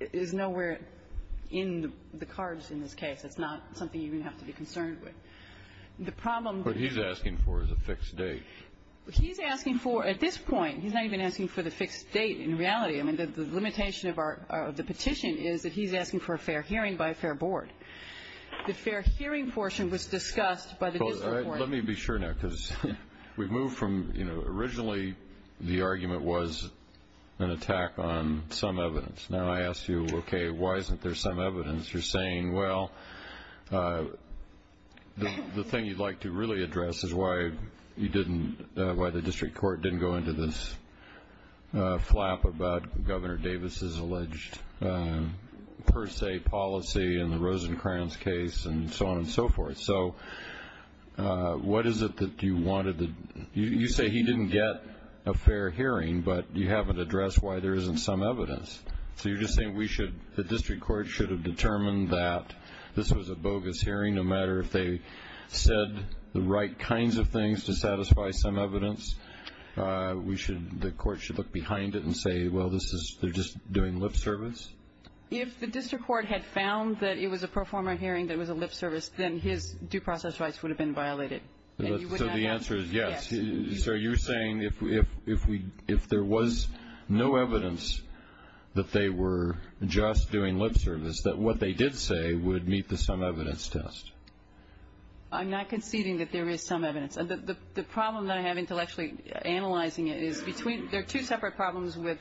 is nowhere in the cards in this case. It's not something you have to be concerned with The problem what he's asking for is a fixed date He's asking for at this point. He's not even asking for the fixed date in reality I mean the limitation of our the petition is that he's asking for a fair hearing by a fair board The fair hearing portion was discussed by the Let me be sure now because we've moved from you know, originally the argument was An attack on some evidence now. I asked you. Okay. Why isn't there some evidence you're saying well The thing you'd like to really address is why you didn't why the district court didn't go into this flap about governor Davis's alleged Per se policy and the Rosencrantz case and so on and so forth. So What is it that you wanted to you say he didn't get a fair hearing but you haven't addressed why there isn't some evidence so you're just saying we should the district court should have determined that this was a bogus hearing a matter if they Said the right kinds of things to satisfy some evidence We should the court should look behind it and say well, this is they're just doing lip service If the district court had found that it was a pro forma hearing that was a lip service Then his due process rights would have been violated The answer is yes So you're saying if we if we if there was no evidence That they were just doing lip service that what they did say would meet the some evidence test I'm not conceding that there is some evidence and the problem that I have intellectually Analyzing it between there are two separate problems with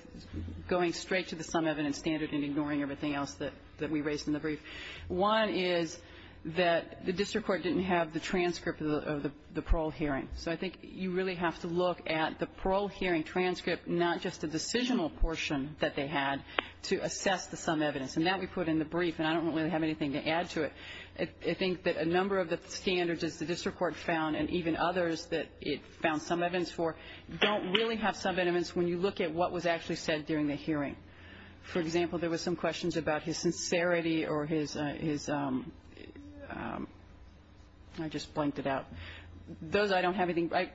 Going straight to the some evidence standard and ignoring everything else that that we raised in the brief One is that the district court didn't have the transcript of the parole hearing so I think you really have to look at the parole hearing transcript not just the Decisional portion that they had to assess the some evidence and that we put in the brief and I don't really have anything to add I think that a number of the standards that the district court found and even others that it found some evidence for Don't really have some evidence when you look at what was actually said during the hearing for example, there was some questions about his sincerity or his Just blanked it out Those I don't have anything like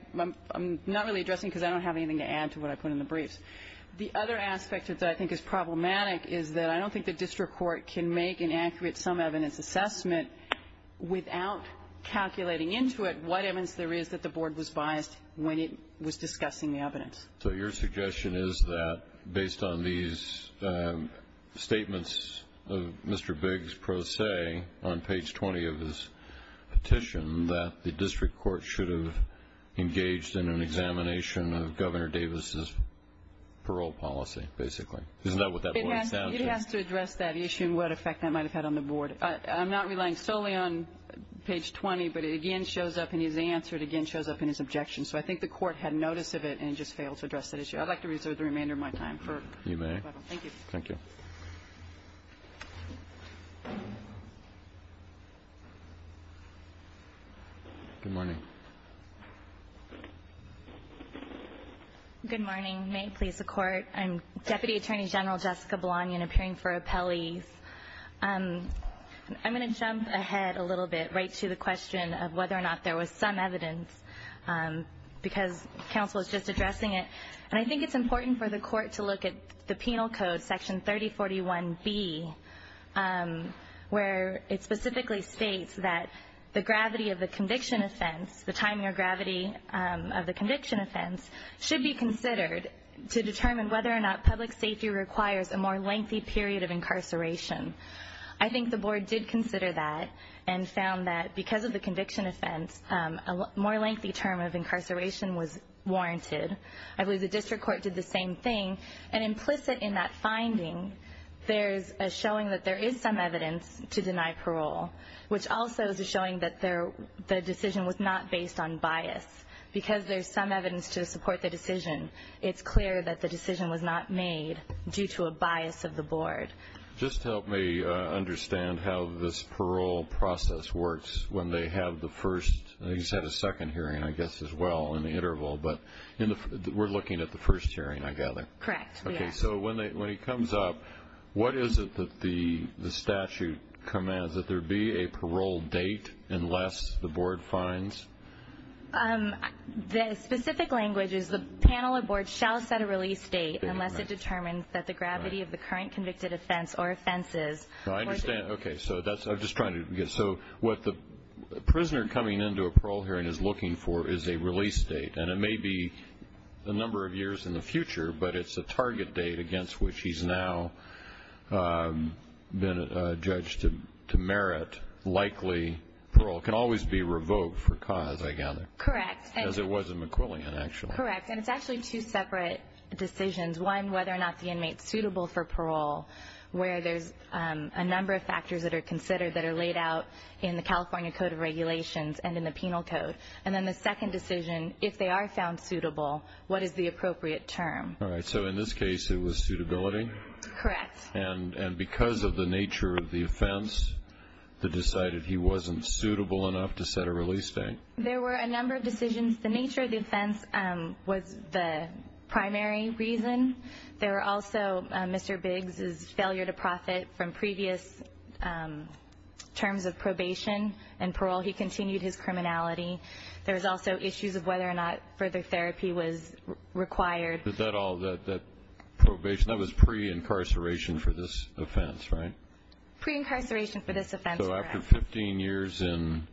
I'm not really addressing because I don't have anything to add to what I put in the brief The other aspect is that I think is problematic is that I don't think the district court can make an accurate some evidence assessment without Calculating into it. What evidence there is that the board was biased when it was discussing the evidence So your suggestion is that based on these? Statements of mr. Biggs pro se on page 20 of this petition that the district court should have engaged in an examination of governor Davis's parole policy basically That issue what effect that might have had on the board, I'm not relying solely on Page 20, but it again shows up and he's answered again shows up in his objection So I think the court had notice of it and just failed to address that issue I'd like to reserve the remainder of my time for you. Thank you Good morning Good morning, may it please the court and deputy attorney general Jessica Blahney and appearing for a Pelley's I'm going to jump ahead a little bit right to the question of whether or not there was some evidence Because counsel is just addressing it and I think it's important for the court to look at the penal code section 3041 B Where it specifically states that the gravity of the conviction offense the time you're granted to appear Of the conviction offense should be considered to determine whether or not public safety requires a more lengthy period of incarceration I think the board did consider that and found that because of the conviction offense a more lengthy term of incarceration was Warranted I believe the district court did the same thing and implicit in that finding There's a showing that there is some evidence to deny parole Which also is showing that there the decision was not based on bias Because there's some evidence to support the decision. It's clear that the decision was not made due to a bias of the board Just help me Understand how this parole process works when they have the first He's had a second hearing I guess as well in the interval, but you know, we're looking at the first hearing I gather Correct. Okay, so when they when he comes up What is it that the the statute commands that there be a parole date unless the board finds The specific languages the panel of boards shall set a release date unless it determines that the gravity of the current convicted offense or Offenses. I understand. Okay, so that's I'm just trying to get so what the Prisoner coming into a parole hearing is looking for is a release date and it may be The number of years in the future, but it's a target date against which he's now Been a judge to merit likely parole can always be revoked for cause I gather correct As it was a McQuillan and actually correct and it's actually two separate decisions one whether or not the inmate suitable for parole Where there's a number of factors that are considered that are laid out in the California Code of Regulations And in the penal code and then the second decision if they are found suitable, what is the appropriate term? All right. So in this case it was suitability Correct and and because of the nature of the offense That decided he wasn't suitable enough to set a release date. There were a number of decisions the nature of defense was the Primary reason there are also mr. Biggs is failure to profit from previous Terms of probation and parole he continued his criminality. There's also issues of whether or not further therapy was Required is that all that that probation that was pre-incarceration for this offense, right? pre-incarceration for this offense, so after 15 years in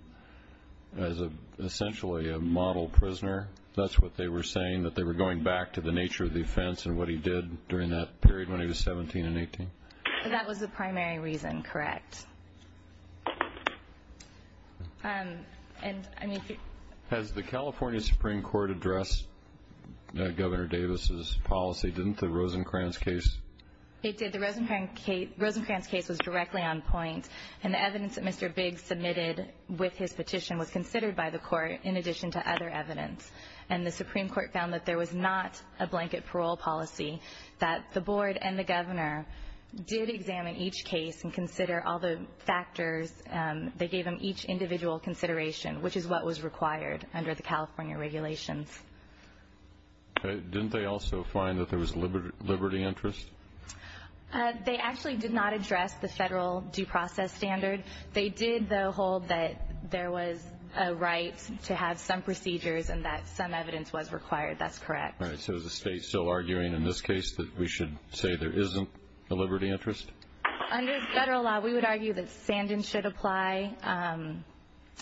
as a Essentially a model prisoner That's what they were saying that they were going back to the nature of the offense and what he did during that period when he was 17 and 18 that was the primary reason, correct And I mean has the California Supreme Court addressed Governor Davis's policy didn't the Rosencrantz case It did the Rosencrantz case was directly on point and the evidence that mr Biggs submitted with his petition was considered by the court in addition to other evidence and the Supreme Court found that there was not a Blanket parole policy that the board and the governor Did examine each case and consider all the factors that gave them each individual consideration Which is what was required under the California regulations Okay, didn't they also find that there was a liberty liberty interest They actually did not address the federal due process standards They did though hold that there was a right to have some procedures and that some evidence was required. That's correct Right. So the state still arguing in this case that we should say there isn't a liberty interest Federal law we would argue that sand and should apply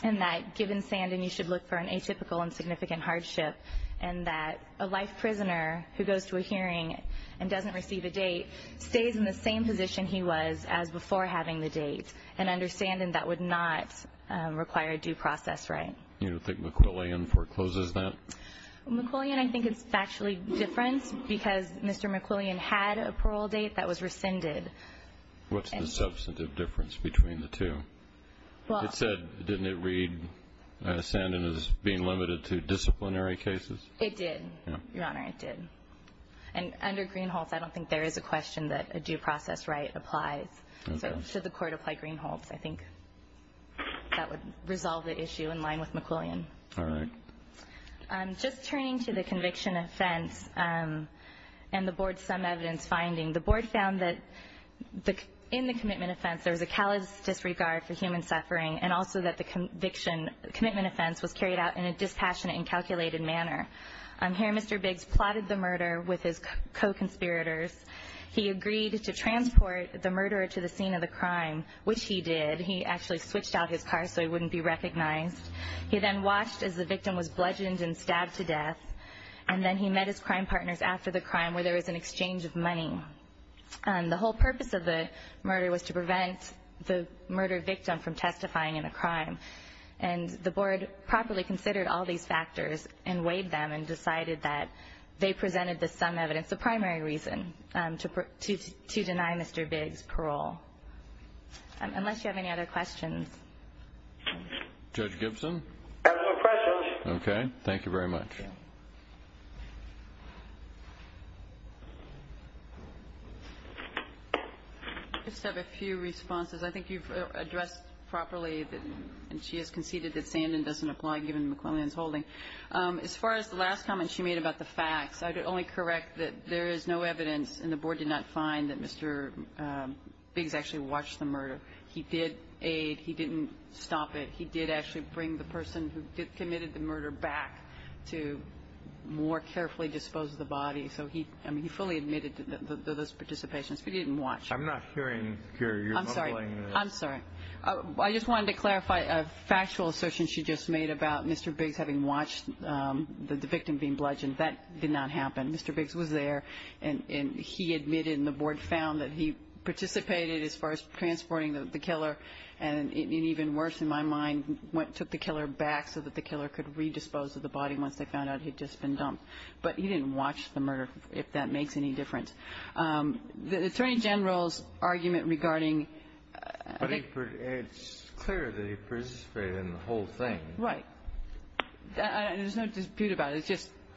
And that given standing you should look for an atypical and significant hardship and that a life prisoner Who goes to a hearing and doesn't receive a date stays in the same position? He was as before having the date and understand and that would not Require a due process, right? You know, I think McClellan forecloses that McClellan, I think it's actually different because mr. McClellan had a parole date that was rescinded What's the substantive difference between the two? Didn't it read Ascendant is being limited to disciplinary cases. It did your honor. I did and Under green holes. I don't think there is a question that a due process right applies. So should the court apply green holes, I think That would resolve the issue in line with McClellan. All right I'm just turning to the conviction of sense and the board some evidence finding the board found that In the commitment of sense there was a callous disregard for human suffering and also that the Conviction commitment offense was carried out in a dispassionate and calculated manner. I'm here. Mr Biggs plotted the murder with his co-conspirators He agreed to transport the murderer to the scene of the crime, which he did he actually switched out his car So he wouldn't be recognized He then watched as the victim was bludgeoned and stabbed to death And then he met his crime partners after the crime where there is an exchange of money And the whole purpose of the murder was to prevent the murder victim from testifying in a crime and The board properly considered all these factors and weighed them and decided that they presented the some evidence the primary reason to Deny, mr. Biggs parole Unless you have any other questions Judge Gibson Okay, thank you very much I Have a few responses. I think you've addressed properly that and she has conceded that standing doesn't apply given McClellan's holding As far as the last comment she made about the facts. I could only correct that there is no evidence and the board did not find that mr Biggs actually watched the murder. He did aid he didn't stop it He did actually bring the person who committed the murder back to More carefully dispose of the body. So he I mean he fully admitted to those participations. He didn't watch. I'm not hearing I'm sorry. I just wanted to clarify a factual assertion. She just made about mr. Biggs having watched The victim being bludgeoned that did not happen. Mr Biggs was there and and he admitted in the board found that he participated as far as transporting the killer and Even worse in my mind Went took the killer back so that the killer could redispose of the body once they found out he'd just been dumped But he didn't watch the murder if that makes any difference the Attorney General's argument regarding Right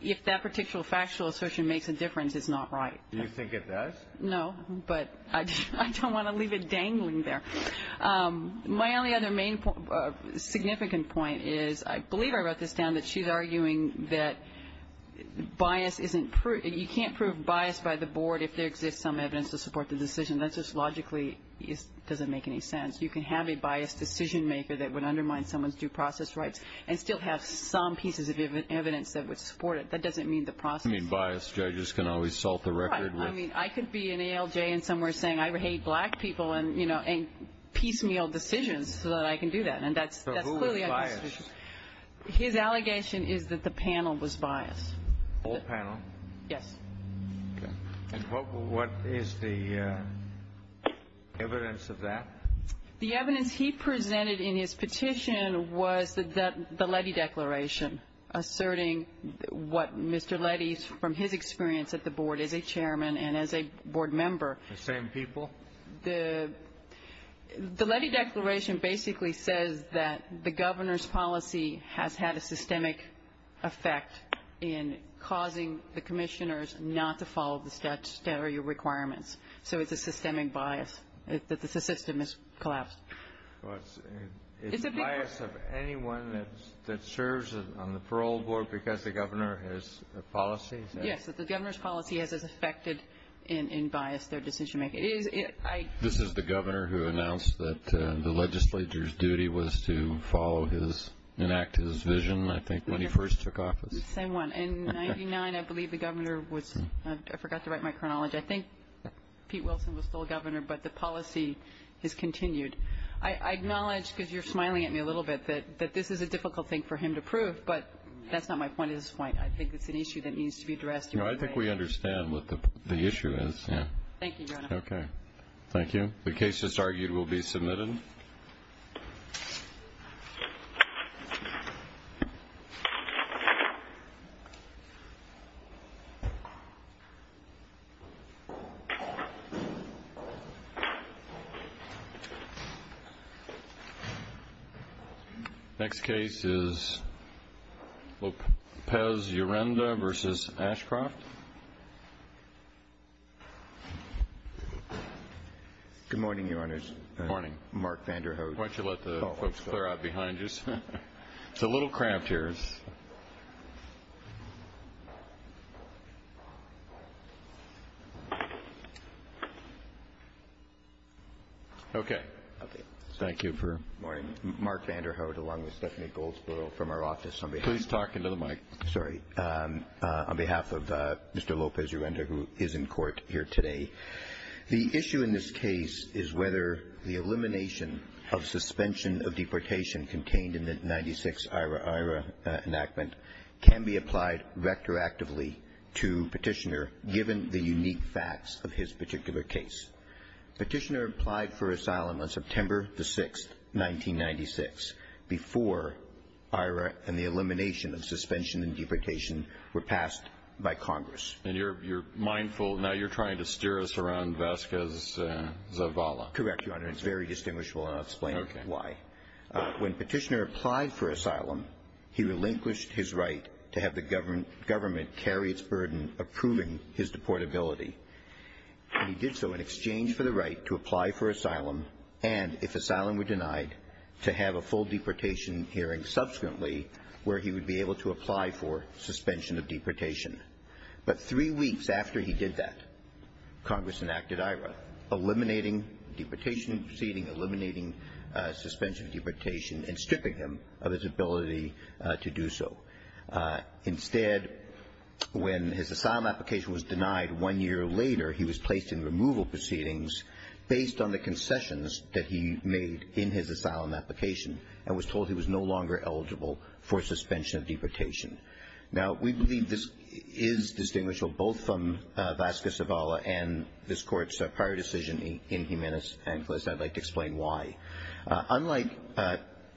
If that particular factual assertion makes a difference it's not right you think it does no, but I don't want to leave it dangling there my only other main significant point is I believe I wrote this down that she's arguing that Bias isn't true and you can't prove bias by the board if there exists some evidence to support the decision. That's just logically Doesn't make any sense you can have a biased decision maker that would undermine someone's due process rights and still have some pieces of Evidence that would support it. That doesn't mean the process mean bias judges can always salt the record I mean, I could be an ALJ and somewhere saying I would hate black people and you know and piecemeal decisions so that I can do that His allegation is that the panel was biased What is the Evidence of that the evidence he presented in his petition was that the levy declaration Asserting what mr. Levy's from his experience at the board as a chairman and as a board member the same people the Levy declaration basically says that the governor's policy has had a systemic effect in Causing the commissioners not to follow the steps that are your requirements. So it's a systemic bias. It's that the system is collapsed Anyone that serves on the parole board because the governor has policy Yes, the governor's policy has a suspected in in bias their decision-making This is the governor who announced that the legislature's duty was to follow his Enacted his vision. I think when he first took office I won and 99 I believe the governor was I forgot to write my chronology. I think Pete Wilson was still governor, but the policy has continued I acknowledge because you're smiling at me a little bit that but this is a difficult thing for him to prove But that's not my point at this point. I think it's an issue that needs to be addressed You know, I think we understand what the issue is Thank you, the case that's argued will be submitted Next case is Lopez Urenda versus Ashcroft Good morning, your honor's morning. Mark Vanderhoof. Why don't you let the folks clear out behind us? It's a little cramped here Okay Thank you for morning mark Vanderhoof along with Stephanie Goldsboro from our office. Somebody who's talking to the mic. Sorry On behalf of mr. Lopez Urenda who is in court here today The issue in this case is whether the elimination of suspension of deportation contained in the 96 IRA IRA Enactment can be applied vector actively to petitioner given the unique facts of his particular case petitioner applied for asylum on September the 6th 1996 before IRA and the elimination of suspension and deportation were passed by Congress and you're you're mindful now You're trying to steer us around Vasquez The Vala correct your honor. It's very distinguishable. I'll explain why When petitioner applied for asylum, he relinquished his right to have the government government carry its burden approving his deportability He did so in exchange for the right to apply for asylum And if asylum were denied to have a full deportation hearing subsequently where he would be able to apply for suspension of deportation But three weeks after he did that Congress enacted IRA eliminating deportation proceeding eliminating Suspension of deportation and stripping him of his ability to do so instead When his asylum application was denied one year later He was placed in removal proceedings based on the concessions that he made in his asylum application I was told he was no longer eligible for suspension of deportation Now we believe this is Distinguishable both from Vasquez of Allah and this court's a prior decision in Jimenez and closed. I'd like to explain why unlike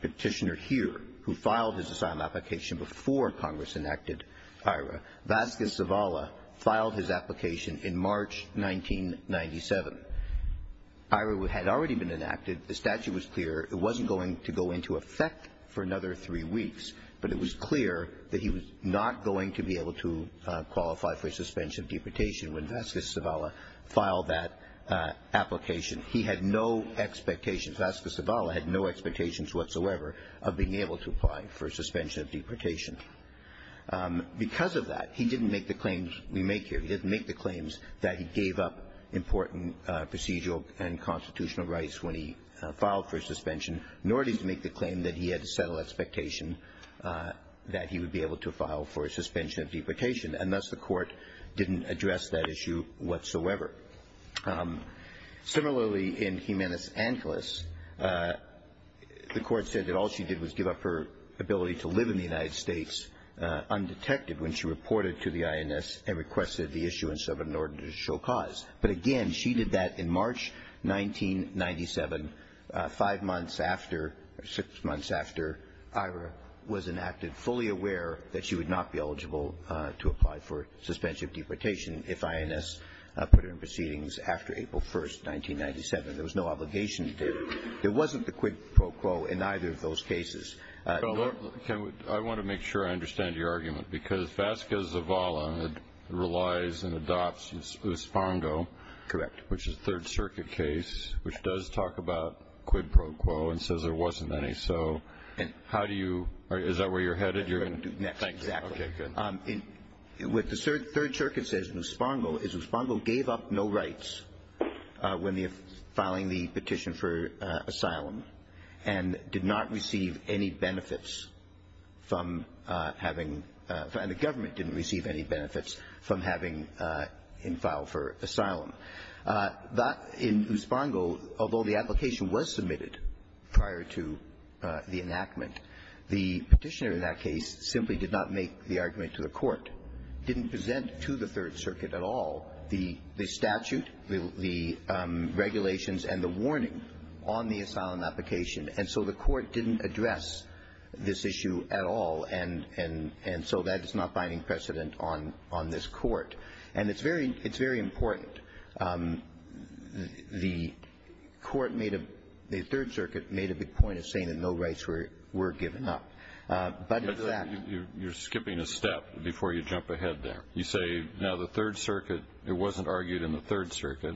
Petitioner here who filed his asylum application before Congress enacted IRA Vasquez of Allah filed his application in March 1997 IRA would had already been enacted. The statute was clear It wasn't going to go into effect for another three weeks But it was clear that he was not going to be able to qualify for suspension of deportation when Vasquez of Allah filed that Application he had no expectations. Vasquez of Allah had no expectations whatsoever of being able to apply for suspension of deportation Because of that he didn't make the claims we make here He didn't make the claims that he gave up important procedural and constitutional rights when he filed for suspension Nor did he make the claim that he had to settle expectation That he would be able to file for a suspension of deportation and thus the court didn't address that issue whatsoever Similarly in Jimenez Angeles The court said that all she did was give up her ability to live in the United States Undetected when she reported to the INS and requested the issuance of an ordinary show cause but again, she did that in March 1997 Five months after six months after IRA was enacted fully aware that she would not be eligible To apply for suspension of deportation if INS put her in proceedings after April 1st 1997 there was no obligations there. There wasn't the quid pro quo in either of those cases I want to make sure I understand your argument because Vasquez of Allah Relies and adopts Lospango correct, which is third circuit case, which does talk about quid pro quo and says there wasn't any so How do you is that where you're headed? With the third circuit says Lospango is Lospango gave up no rights when they're filing the petition for asylum and Did not receive any benefits from Having the government didn't receive any benefits from having in file for asylum that in Lospango, although the application was submitted prior to The enactment the petitioner in that case simply did not make the argument to the court didn't present to the third circuit at all the the statute the Regulations and the warning on the asylum application and so the court didn't address This issue at all and and and so that it's not finding precedent on on this court and it's very it's very important The Court made a third circuit made a big point of saying that no rights were were given up But that you're skipping a step before you jump ahead there. You say now the third circuit It wasn't argued in the third circuit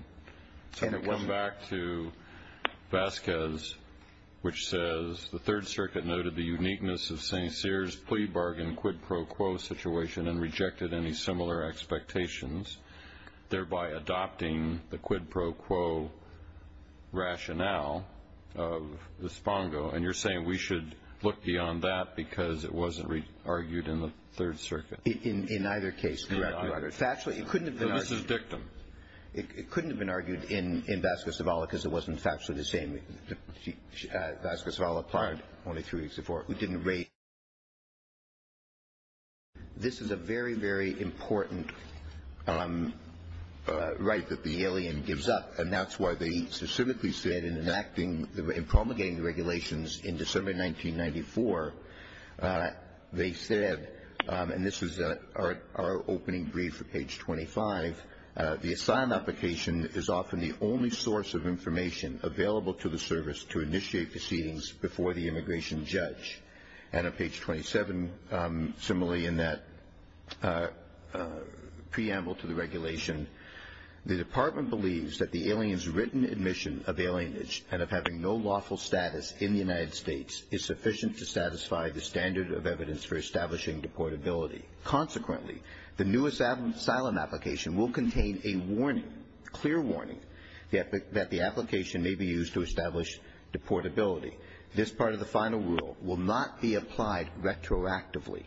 so we come back to Vasquez Which says the third circuit noted the uniqueness of st. Sears plea bargain quid pro quo situation and rejected any similar expectations thereby adopting the quid pro quo Rationale of The spongo and you're saying we should look beyond that because it wasn't really argued in the third circuit in in either case Actually, it couldn't have been victim. It couldn't have been argued in in Vasquez de Bala because it wasn't actually the same She asked us all apart only three support we didn't rate This is a very very important Right that the alien gives up and that's why they specifically said in enacting the promulgating regulations in December 1994 They said and this is a our opening brief for page 25 The asylum application is often the only source of information Available to the service to initiate proceedings before the immigration judge and on page 27 similarly in that Preamble to the regulation The department believes that the aliens written admission of alienage and of having no lawful status in the United States is sufficient to satisfy the standard of evidence for establishing Deportability Consequently, the newest album asylum application will contain a warning clear warning the epic that the application may be used to establish Deportability this part of the final rule will not be applied retroactively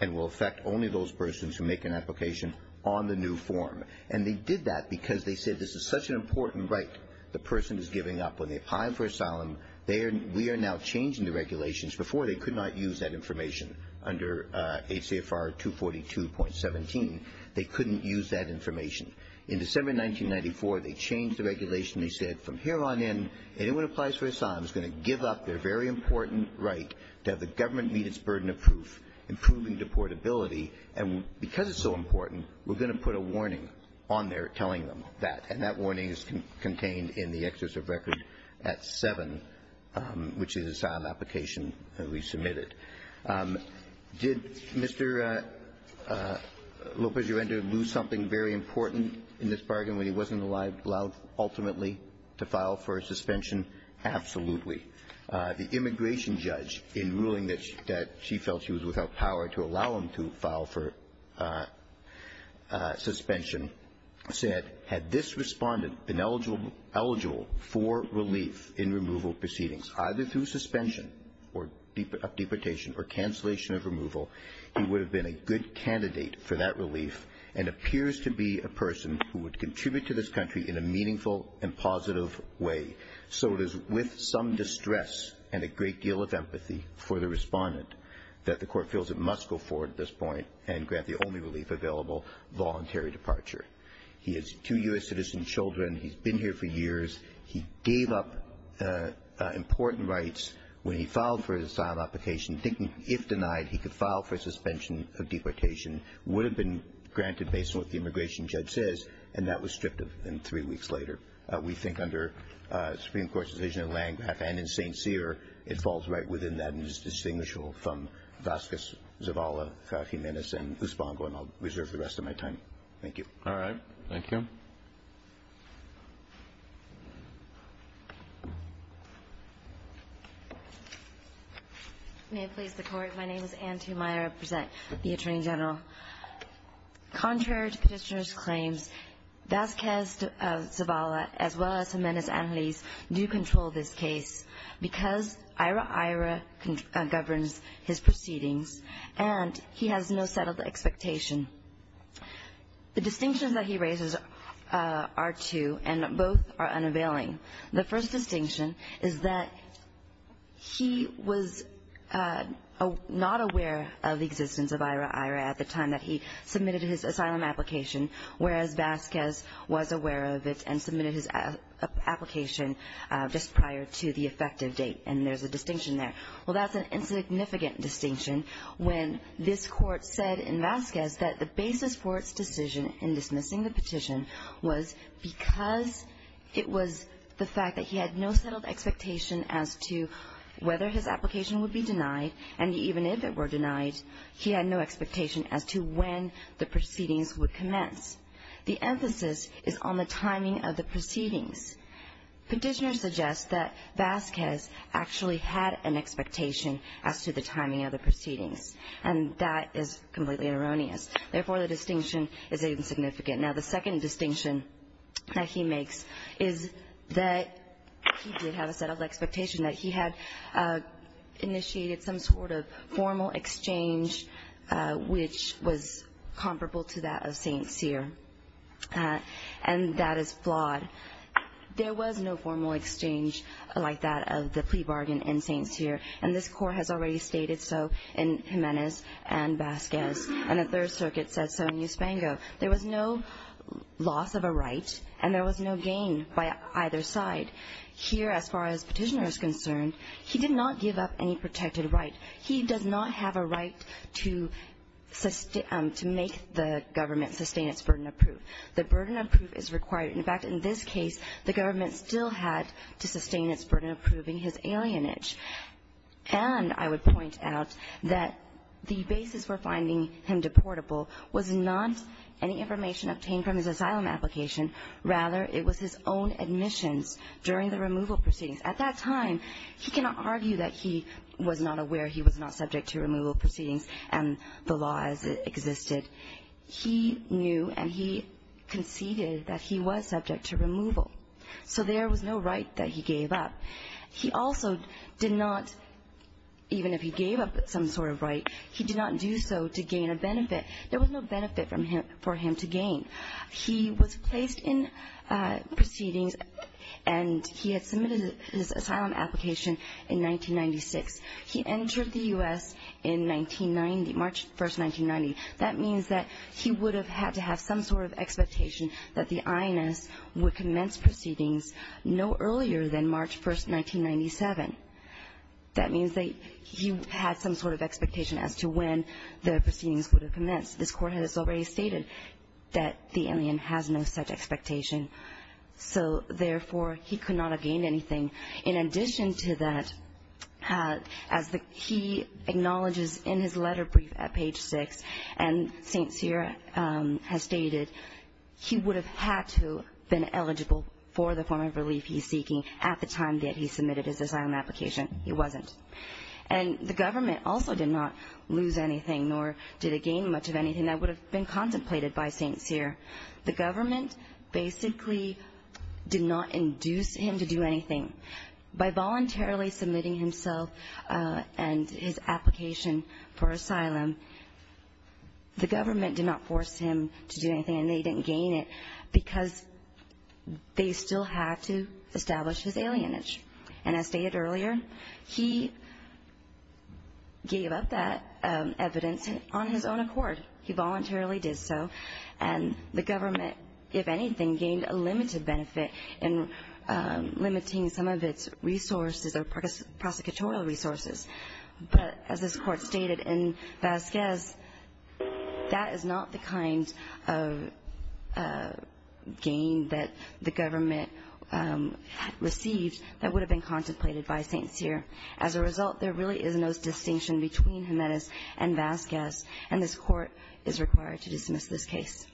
and will affect only those persons who make an application on the new form and they did that because they said this is such an Important right the person is giving up on the time for asylum They are we are now changing the regulations before they could not use that information under ACF are two forty two point seventeen. They couldn't use that information in December 1994. They changed the regulation We said from here on in anyone applies for asylum is going to give up their very important Right that the government meet its burden of proof improving deportability and because it's so important We're going to put a warning on there telling them that and that warning is contained in the excess of record at seven Which is an application that we submitted did mr. Lopez you entered lose something very important in this bargain when he wasn't alive allowed ultimately to file for a suspension Absolutely the immigration judge in ruling that she felt she was without power to allow him to file for Suspension Said had this respondent been eligible eligible for relief in removal proceedings either through suspension or deportation or cancellation of removal He would have been a good candidate for that relief and appears to be a person who would contribute to this country in a meaningful and positive way So it is with some distress and a great deal of empathy for the respondent That the court feels it must go forward at this point and grant the only relief available Voluntary departure. He is to US citizen children. He's been here for years. He gave up important rights when he filed for his asylum application thinking if denied he could file for suspension of deportation would have been Granted based on what the immigration judge says and that was stripped of in three weeks later. We think under Supreme Court's vision length and in st. Cyr it falls right within that and is distinguishable from Vasquez Zavala Jimenez and who spawned one I'll reserve the rest of my time. Thank you. All right May please support my name is auntie Maya presents the Attorney General Contrary to petitioners claim Vasquez Zavala as well as Jimenez and Lee's do control this case because IRA IRA Governs his proceedings and he has no settled expectation the distinction that he raises are two and both are unavailing the first distinction is that he was Not aware of the existence of IRA IRA at the time that he submitted his asylum application whereas Vasquez was aware of it and submitted his Application just prior to the effective date and there's a distinction there well that's an insignificant distinction when this court said in Vasquez that the basis for its decision in dismissing the petition was Because it was the fact that he had no settled expectation as to Whether his application would be denied and even if it were denied He had no expectation as to when the proceedings would commence. The emphasis is on the timing of the proceedings petitioners suggest that Vasquez actually had an expectation as to the timing of the proceedings and that is completely erroneous Therefore the distinction is insignificant. Now the second distinction that he makes is that You have a set of expectation that he had Initiated some sort of formal exchange Which was comparable to that of Saints here? And that is flawed There was no formal exchange like that of the plea bargain in Saints here and this court has already stated so and Jimenez and Spango there was no Loss of a right and there was no gain by either side Here as far as petitioners concerned. He did not give up any protected rights. He does not have a right to Sustain to make the government to stay in its burden of proof the burden of proof is required In fact in this case the government still had to sustain its burden of proving his alienage And I would point out that The basis for finding him deportable was not any information obtained from his asylum application Rather it was his own admission during the removal proceedings at that time He cannot argue that he was not aware. He was not subject to removal proceedings and the laws existed He knew and he Conceded that he was subject to removal. So there was no right that he gave up He also did not Even if he gave up some sort of right, he did not do so to gain a benefit There was no benefit from him for him to gain. He was placed in proceedings and He had submitted his asylum application in 1996 he entered the u.s. In 1990 March 1st 1990 that means that he would have had to have some sort of expectation that the INS would commence Proceedings no earlier than March 1st 1997 That means they you had some sort of expectation as to when the proceedings would have commenced this court has already stated That the alien has no such expectation So therefore he could not have gained anything in addition to that as the key acknowledges in his letter brief at page 6 and Has stated He would have had to been eligible for the form of relief He's seeking at the time that he submitted his asylum application He wasn't and the government also did not lose anything nor did it gain much of anything That would have been contemplated by things here the government basically Did not induce him to do anything by voluntarily submitting himself and his application for asylum The government did not force him to do anything and they didn't gain it because they still have to establish his alienage and as stated earlier he Gave up that Evidence on his own accord. He voluntarily did so and the government if anything gained a limited benefit and limiting some of its resources or prosecutorial resources But as this court stated and that says that is not the kind of Gain that the government Received that would have been contemplated by things here as a result There really is no distinction between Jimenez and Vasquez and this court is required to dismiss this case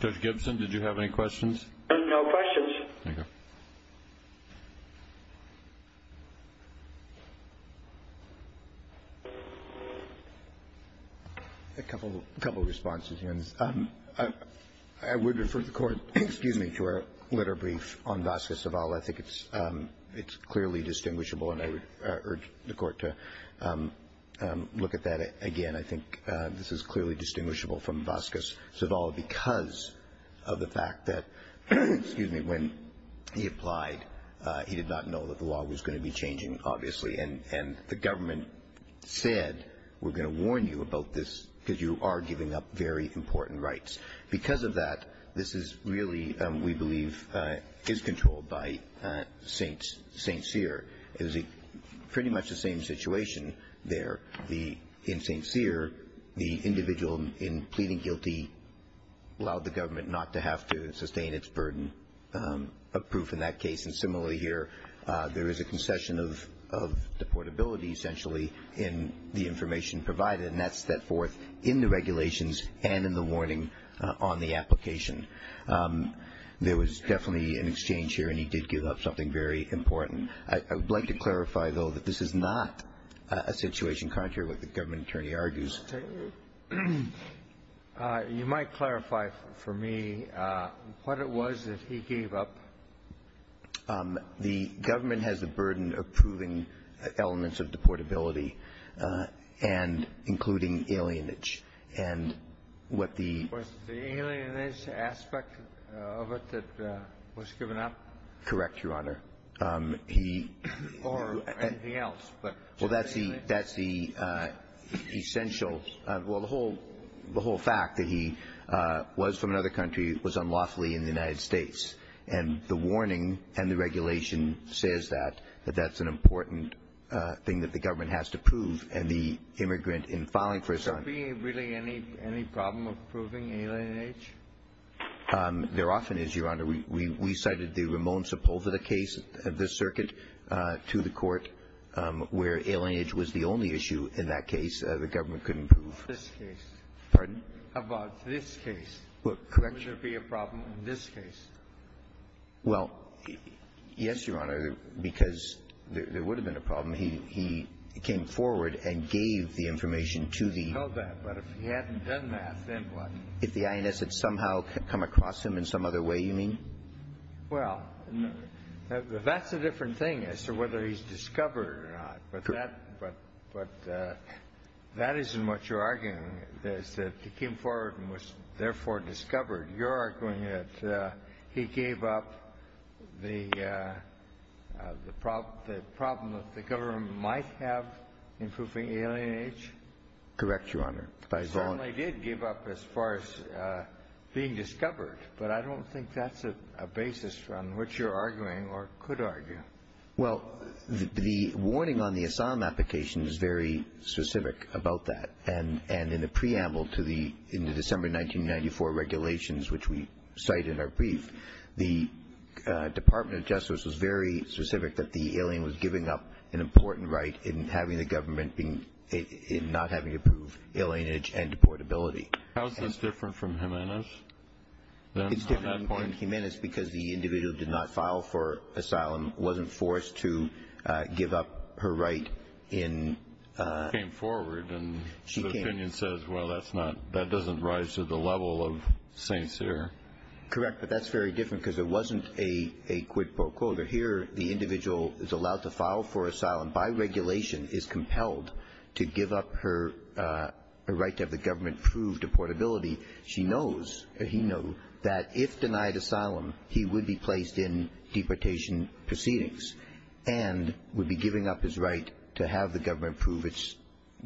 Judge Gibson, did you have any questions? A Couple a couple responses in I Would refer the court excuse me to our letter brief on Vasquez at all. I think it's it's clearly distinguishable and I would urge the court to Look at that again. I think this is clearly distinguishable from Vasquez at all because of the fact that Excuse me when he applied He did not know that the law was going to be changing obviously and and the government Said we're going to warn you about this because you are giving up very important rights because of that This is really we believe is controlled by Saints st. Cyr is a pretty much the same situation There be in st. Cyr the individual in pleading guilty Allowed the government not to have to sustain its burden Approved in that case and similarly here. There is a concession of Supportability essentially in the information provided and that's set forth in the regulations and in the warning on the application There was definitely an exchange here and he did give up something very important I would like to clarify though that this is not a situation contrary what the government attorney argues You Might clarify for me what it was that he gave up The government has a burden of proving elements of deportability and including alienage and what the Correct your honor he Well, that's the that's the Essential well the whole the whole fact that he Was from another country was unlawfully in the United States and the warning and the regulation says that but that's an important Thing that the government has to prove and the immigrant in following first are being really any any problem approving alien age There often is your honor. We we cited the Ramon Sepulveda case of this circuit to the court Where alien age was the only issue in that case the government couldn't prove this case About this case what could be a problem in this case? well Yes, your honor because there would have been a problem. He came forward and gave the information to the If the INS had somehow come across him in some other way you mean well That's a different thing as to whether he's discovered That isn't what you're arguing is that he came forward and was therefore discovered you're arguing that he gave up the The problem the problem that the government might have in proving alien age Correct your honor. I thought I did give up as far as You're arguing or could argue well the warning on the Assam applications is very specific about that and and in the preamble to the in the December 1994 regulations, which we cite in our brief the Department of Justice was very specific that the alien was giving up an important right in having the government being In not having to prove alien age and deportability. How's this different from him in us? Humanus because the individual did not file for asylum wasn't forced to give up her right in Forward and she can't opinion says well, that's not that doesn't rise to the level of Saints here Correct, but that's very different because it wasn't a a quid pro quo But here the individual is allowed to file for asylum by regulation is compelled to give up her Right to have the government proved to portability. She knows he knew that if denied asylum he would be placed in deportation proceedings and Would be giving up his right to have the government prove its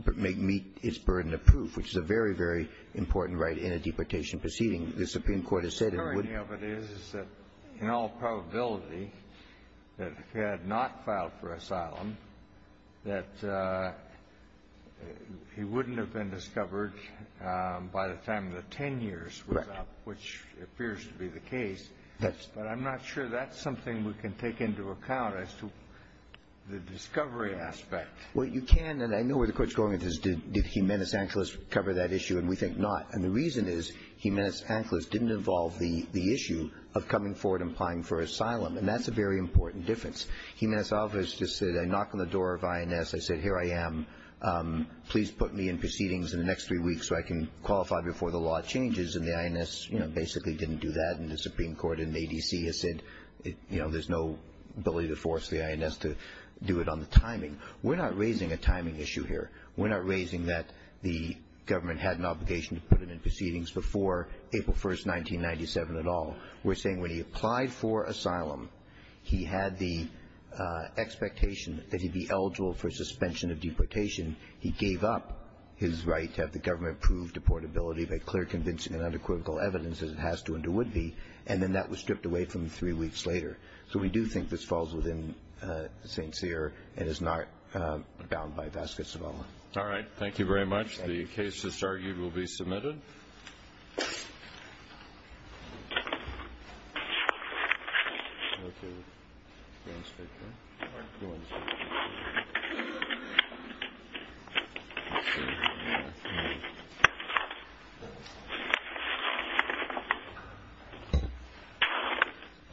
but make me it's burden of proof Which is a very very important right in a deportation proceeding. The Supreme Court has said it wouldn't in all probability that had not filed for asylum that He Wouldn't have been discovered By the time the ten years which appears to be the case. That's but I'm not sure that's something we can take into account as to the discovery aspect What you can and I know where the courts going just did did he menace antlers cover that issue and we think not and the reason Is he menace antlers didn't involve the the issue of coming forward implying for asylum? And that's a very important difference. He myself has just said I knocked on the door of INS. I said here I am Please put me in proceedings in the next three weeks so I can qualify before the law changes and the INS You know basically didn't do that and the Supreme Court in the ADC has said it You know, there's no ability to force the INS to do it on the timing. We're not raising a timing issue here We're not raising that the government had an obligation to put it in proceedings before April 1st 1997 at all. We're saying when he applied for asylum he had the Expectation that he'd be eligible for suspension of deportation He gave up his right to have the government prove deportability But clear conviction and under critical evidence as it has to under would be and then that was stripped away from three weeks later So we do think this falls within St. Cyr and is not Bound by baskets alone. All right. Thank you very much. The case is argued will be submitted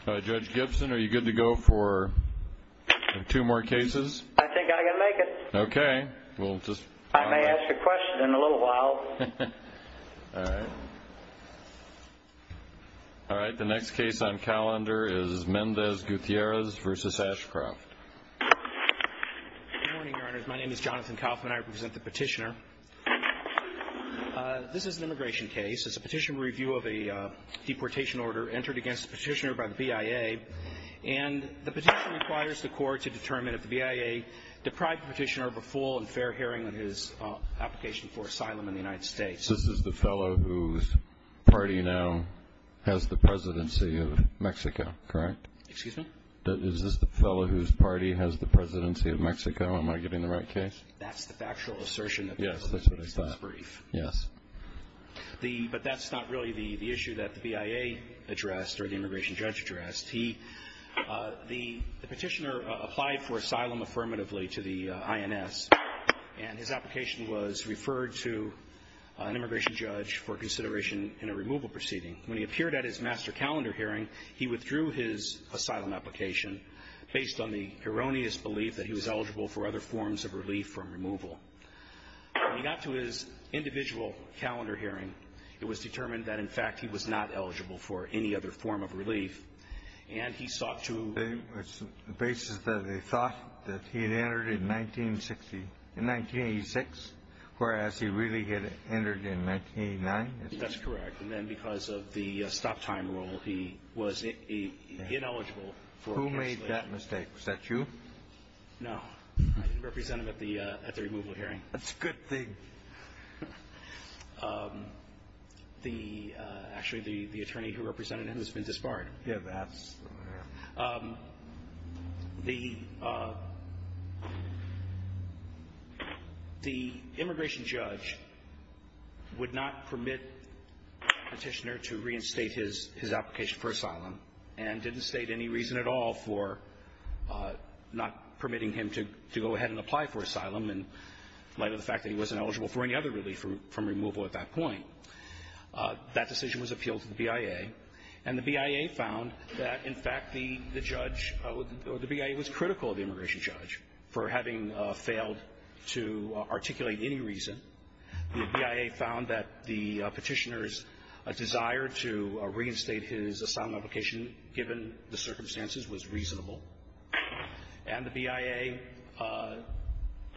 I Judge Gibson are you good to go for? Two more cases. I think I can make it. Okay, we'll just I may ask a question in a little while All right, the next case on calendar is Mendez Gutierrez versus Ashcroft My name is Jonathan Kaufman I present the petitioner This is an immigration case it's a petition review of a deportation order entered against the petitioner by the BIA and the petition requires the court to determine if BIA deprived petitioner of a full and fair hearing on his application for asylum in the United States The fellow whose party now has the presidency of Mexico, correct This is the fellow whose party has the presidency of Mexico. Am I getting the right case? Yes The but that's not really the the issue that the BIA addressed or the immigration judge addressed. He the petitioner applied for asylum affirmatively to the INS and his application was referred to An immigration judge for consideration in a removal proceeding when he appeared at his master calendar hearing he withdrew his asylum application Based on the erroneous belief that he was eligible for other forms of relief from removal When he got to his individual calendar hearing it was determined that in fact he was not eligible for any other form of relief and he sought to Basis that they thought that he had entered in 1960 in 1986 Whereas he really get it entered in 1989. That's correct. And then because of the stop time rule, he was a Ineligible who made that mistake? Is that you? No Represented at the removal hearing. That's a good thing The actually the the attorney who represented him has been disbarred yeah The The immigration judge Would not permit petitioner to reinstate his his application for asylum and didn't state any reason at all for Not permitting him to go ahead and apply for asylum and light of the fact that he wasn't eligible for any other relief from removal at that point That decision was appealed to the BIA and the BIA found that in fact the the judge The BIA was critical of the immigration judge for having failed to articulate any reason BIA found that the petitioner's a desire to reinstate his asylum application given the circumstances was reasonable and the BIA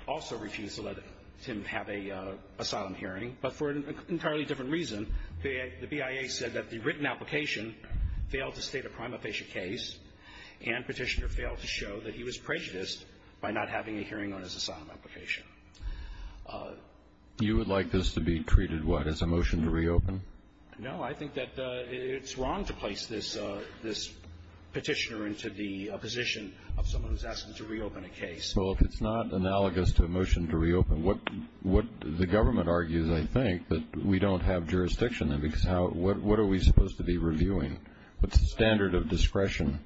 Also refused to let him have a Asylum hearing but for an entirely different reason the BIA said that the written application Failed to state a prima facie case and petitioner failed to show that he was prejudiced by not having a hearing on his asylum application You would like this to be treated what is a motion to reopen no, I think that it's wrong to place this this Petitioner into the position of someone who's asking to reopen a case Well, it's not analogous to a motion to reopen what what the government argues? I think that we don't have jurisdiction and because how what are we supposed to be reviewing but the standard of discretion?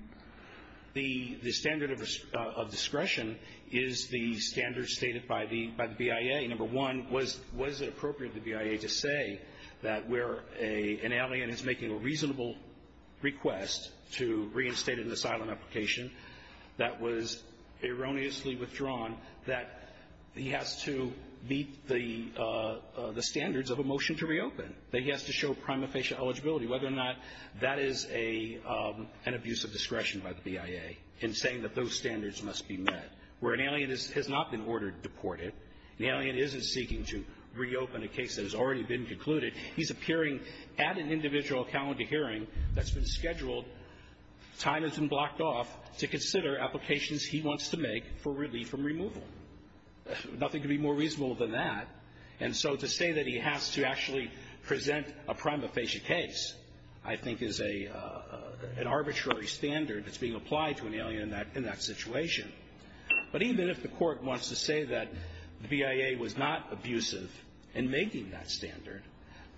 the the standard of Discretion is the standard stated by the by the BIA Number one was was it appropriate the BIA to say that we're a an alien is making a reasonable Request to reinstate an asylum application that was erroneously withdrawn that he has to meet the the standards of a motion to reopen that he has to show prima facie eligibility whether or not that is a An abuse of discretion by the BIA in saying that those standards must be met where an alien has not been ordered deported The alien isn't seeking to reopen a case that has already been concluded He's appearing at an individual calendar hearing that's been scheduled Time has been blocked off to consider applications. He wants to make for relief from removal Nothing to be more reasonable than that. And so to say that he has to actually present a prima facie case. I think is a An arbitrary standard that's being applied to an alien that in that situation but even if the court wants to say that the BIA was not abusive and making that standard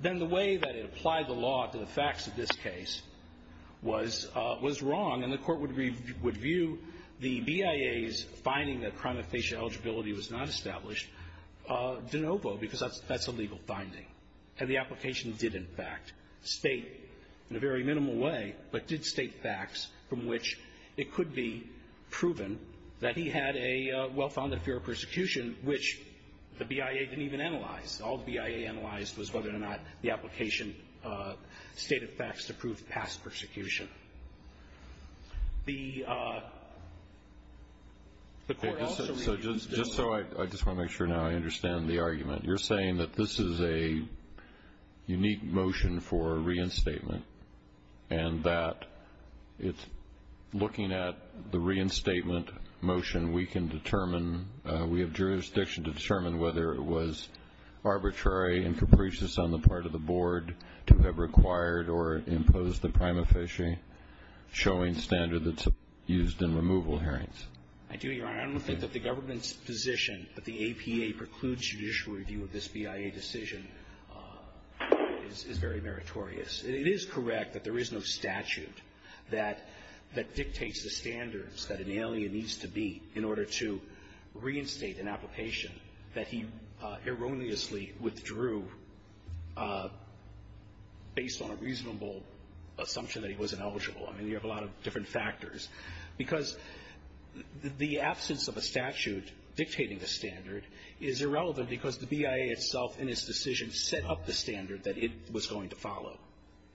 Then the way that it applied the law to the facts of this case Was was wrong and the court would read would view the BIA's finding that prima facie eligibility was not established De novo because that's a legal finding and the application did in fact state in a very minimal way But did state facts from which it could be proven that he had a well-founded fear of persecution Which the BIA didn't even analyze all the BIA analyzed was whether or not the application stated facts to prove past persecution The So, I just want to make sure now I understand the argument you're saying that this is a unique motion for reinstatement and that it's The reinstatement motion we can determine we have jurisdiction to determine whether it was Arbitrary and capricious on the part of the board to have required or imposed the prima facie Showing standard that's used in removal hearings Position but the APA precludes judicial review of this BIA decision Is very meritorious it is correct that there is no statute that that dictates the standards that an alien needs to be in order to reinstate an application that he erroneously withdrew Based on a reasonable assumption that he was ineligible. I mean you have a lot of different factors because The absence of a statute Dictating the standard is irrelevant because the BIA itself in its decision set up the standard that it was going to follow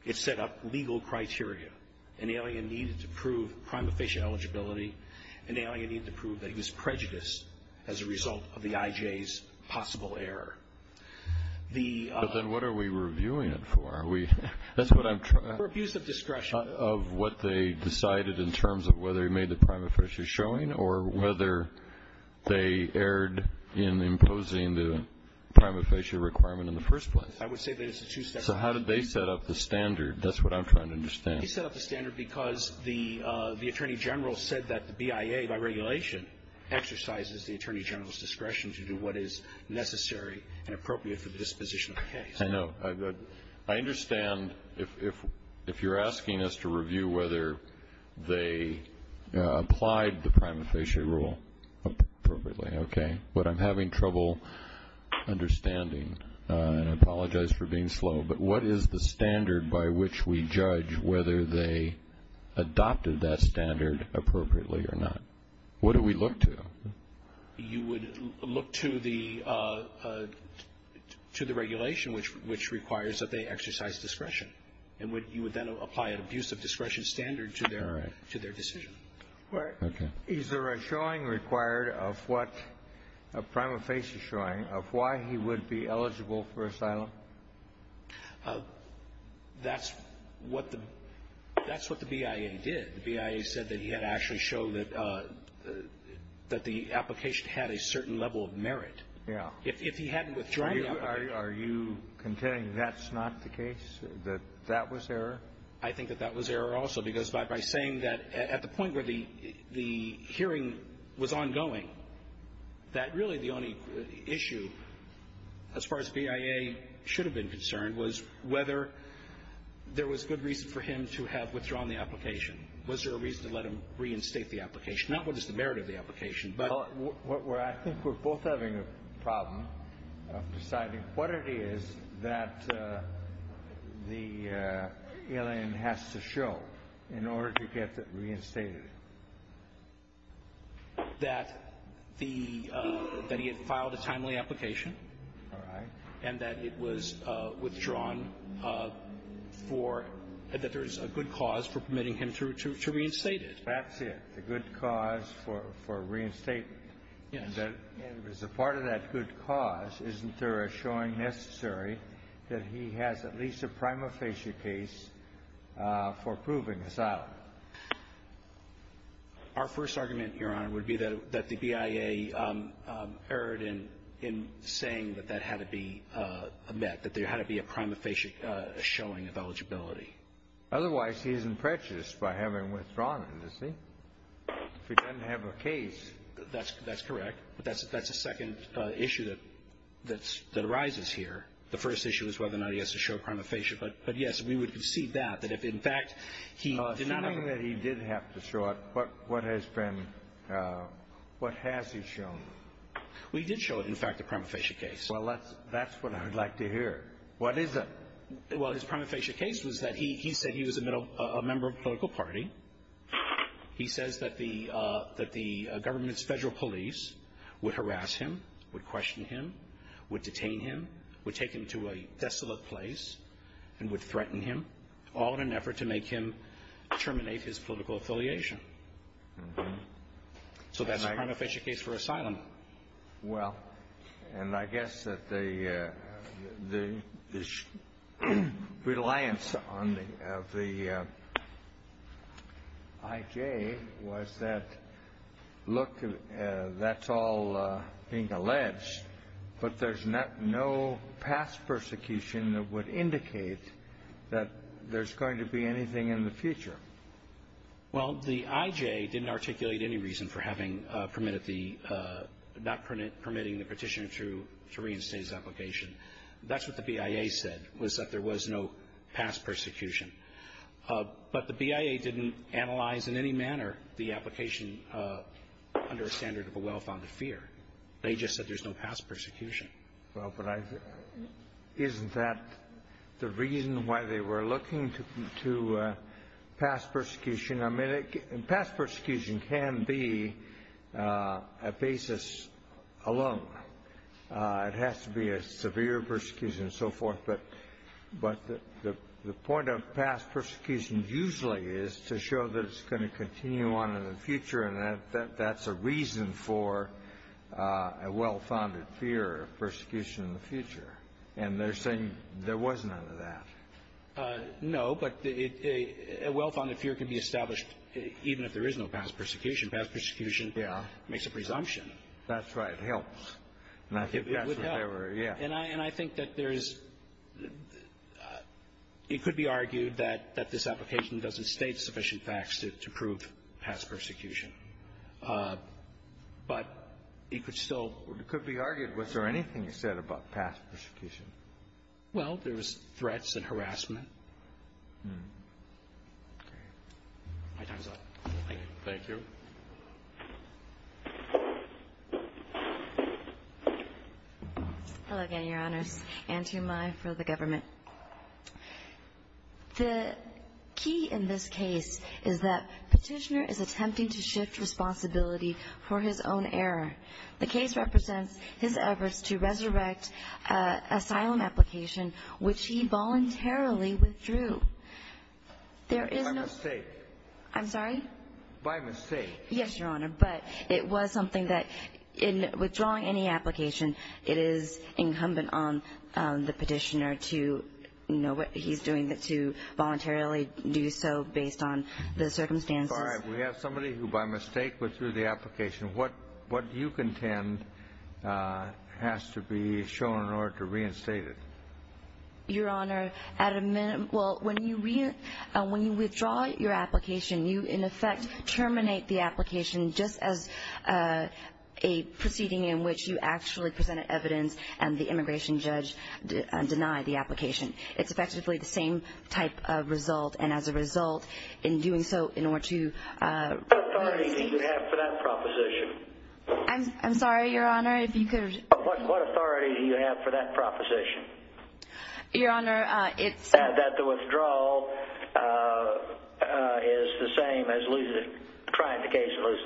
It set up legal criteria and the alien needed to prove prima facie eligibility And now you need to prove that he was prejudiced as a result of the IJ's possible error the then what are we reviewing it for we Use the discretion of what they decided in terms of whether he made the prima facie showing or whether they erred in imposing the Prima facie requirement in the first place. I would say there's two steps. So how did they set up the standard? That's what I'm trying to understand. He set up the standard because the the Attorney General said that the BIA by regulation Exercises the Attorney General's discretion to do what is necessary and appropriate for this position. Okay. I know I Understand if if you're asking us to review whether they Applied the prima facie rule Okay, but I'm having trouble Understanding Apologize for being slow. But what is the standard by which we judge whether they? Adopted that standard appropriately or not. What do we look to? you would look to the To the regulation which which requires that they exercise discretion and what you would then apply an abuse of discretion standard to their to their decision or Is there a showing required of what a prima facie showing of why he would be eligible for asylum? That's what the that's what the BIA did the BIA said that he had actually show that That the application had a certain level of merit. Yeah, if he hadn't withdrawn Yeah, are you contending that's not the case that that was there? I think that that was error also because by by saying that at the point where the the hearing was ongoing that really the only issue as far as BIA should have been concerned was whether There was good reason for him to have withdrawn the application was there a reason to let him reinstate the application not what is the Merit of the application, but what we're I think we're both having a problem Deciding what it is that The alien has to show in order to get that reinstated That the That he had filed a timely application And that it was withdrawn For that there's a good cause for permitting him to reinstate it. That's it the good cause for reinstate As a part of that good cause isn't there a showing necessary that he has at least a prima facie case for proving asylum Our first argument here on would be that that the BIA Errored in in saying that that had to be Met that there had to be a prima facie showing of eligibility Otherwise, he isn't precious by having withdrawn to see If you don't have a case, that's that's correct. That's that's a second issue That's that arises here. The first issue is whether or not he has to show prima facie But but yes, we would concede that but if in fact he did not know that he did have to show up But what has been? What has he shown? We did show it in fact the prima facie case, well, that's that's what I would like to hear. What is it? Well, his prima facie case was that he said he was a member of political party He says that the that the government's federal police would harass him would question him Would detain him would take him to a desolate place and would threaten him all in an effort to make him terminate his political affiliation So that's a prima facie case for asylum well, and I guess that the the Reliance on the IJ was that Look, that's all being alleged But there's not no past persecution that would indicate that there's going to be anything in the future Well, the IJ didn't articulate any reason for having permitted the Not permit permitting the petition to to reinstate his application. That's what the BIA said was that there was no past persecution But the BIA didn't analyze in any manner the application Under a standard of a well-founded fear. They just said there's no past persecution. Well, but I Isn't that the reason why they were looking to to? pass persecution a minute and past persecution can be a basis alone It has to be a severe persecution and so forth but but the the point of past persecution usually is to show that it's going to continue on in the future and That's a reason for a well-founded fear of persecution in the future and they're saying there was none of that No, but a Well-founded fear can be established even if there is no past persecution past persecution. Yeah makes a presumption. That's right. It helps Yeah, and I and I think that there is It could be argued that that this application doesn't state sufficient facts is to prove past persecution But it could still it could be argued was there anything you said about past persecution Well, there was threats and harassment Thank you Hello again, your honor and to my for the government The Key in this case is that petitioner is attempting to shift responsibility for his own error The case represents his efforts to resurrect Asylum application which he voluntarily withdrew There is a mistake. I'm sorry by mistake. Yes, your honor but it was something that in withdrawing any application it is incumbent on the petitioner to You know what? He's doing it to voluntarily do so based on the circumstance All right. We have somebody who by mistake was through the application what what you contend? Has to be shown in order to reinstate it Your honor at a minute. Well when you read when you withdraw your application you in effect terminate the application just as a Proceeding in which you actually presented evidence and the immigration judge Denied the application. It's effectively the same type of result and as a result in doing so in order to After that proposition, I'm sorry, your honor What authority do you have for that proposition? Your honor if that the withdrawal Is the same as losing trying to case it was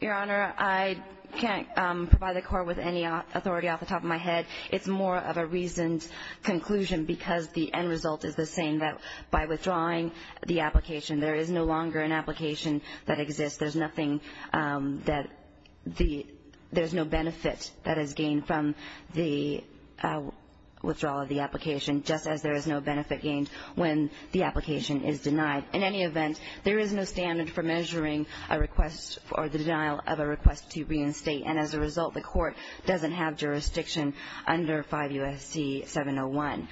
your honor I Can't buy the court with any authority off the top of my head. It's more of a reasoned Conclusion because the end result is the same that by withdrawing the application There is no longer an application that exists. There's nothing that the there's no benefit that has gained from the Withdrawal of the application just as there is no benefit gained when the application is denied in any event There is no standard for measuring a request for the denial of a request to be in state And as a result the court doesn't have jurisdiction under five USC 701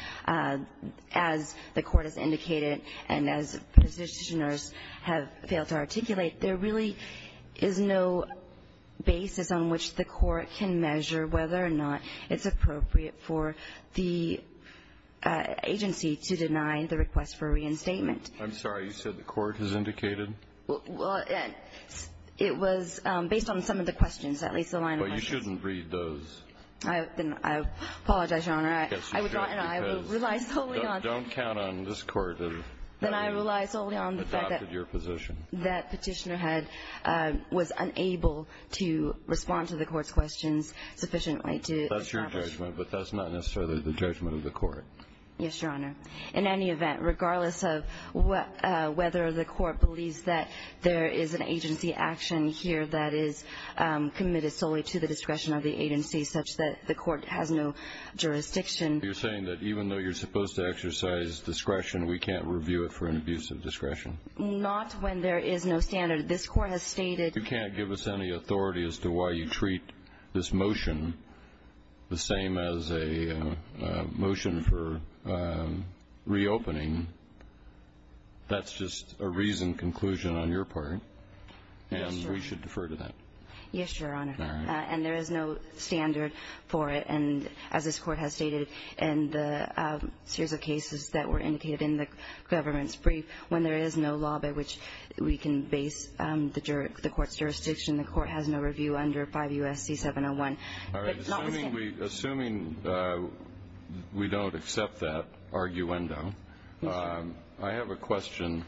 As the court has indicated and as Positioners have failed to articulate there really is no basis on which the court can measure whether or not it's appropriate for the Agency to deny the request for reinstatement. I'm sorry. You said the court has indicated It was based on some of the questions at least the line you shouldn't read those Apologize Don't count on this court That petitioner had Was unable to respond to the court's questions Sufficiently to that's your judgment, but that's not necessarily the judgment of the court. Yes, your honor in any event regardless of what? whether the court believes that there is an agency action here that is Committed solely to the discretion of the agency such that the court has no Jurisdiction you're saying that even though you're supposed to exercise discretion. We can't review it for an abuse of discretion Not when there is no standard this court has stated. You can't give us any authority as to why you treat this motion the same as a motion for Reopening That's just a reason conclusion on your part Defer to that. Yes, your honor and there is no standard for it. And as this court has stated and through the cases that were indicated in the Government's brief when there is no law by which we can base the jerk the court's jurisdiction The court has no review under five USC 701 Assuming We don't accept that Arguendo, I have a question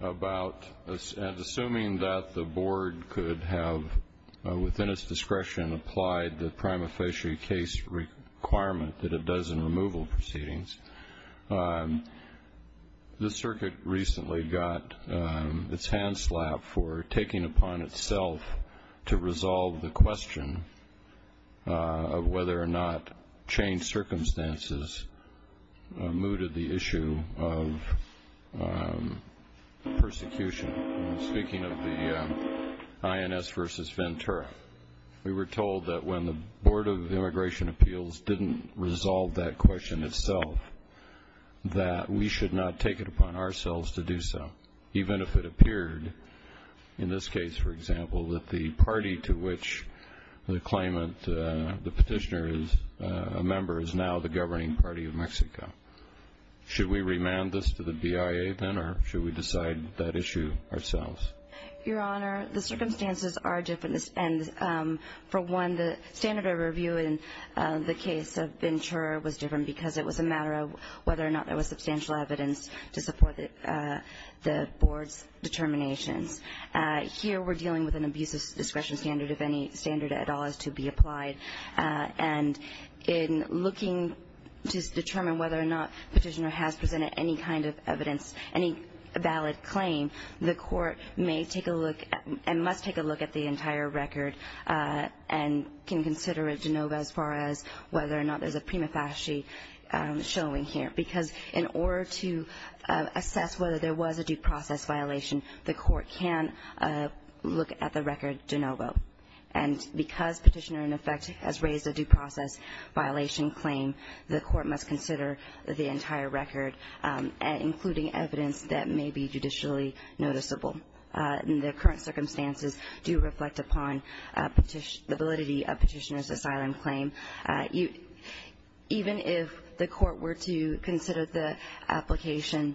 About this and assuming that the board could have Within its discretion applied the prima facie case Requirement that it does in removal proceedings This circuit recently got its hand slap for taking upon itself to resolve the question Whether or not change circumstances mooted the issue of Persecution speaking of the INS versus Ventura, we were told that when the Board of Immigration Appeals didn't resolve that question itself That we should not take it upon ourselves to do so even if it appeared in this case, for example that the party to which The claimant the petitioner is a member is now the governing party of Mexico Should we remand this to the BIA then or should we decide that issue ourselves? your honor the circumstances are different and for one the standard of review in The case of Ventura was different because it was a matter of whether or not there was substantial evidence to support it the board's determination Here we're dealing with an abuse of discretion standard if any standard at all has to be applied And in looking to determine whether or not petitioner has presented any kind of evidence any Valid claim the court may take a look and must take a look at the entire record And can consider it to know that as far as whether or not there's a prima facie showing here because in order to assess whether there was a due process violation the court can Look at the records de novo and Because petitioner in effect has raised a due process Violation claim the court must consider the entire record including evidence that may be judicially noticeable in the current circumstances do reflect upon ability of petitioners of violent claim you even if the court were to consider the Application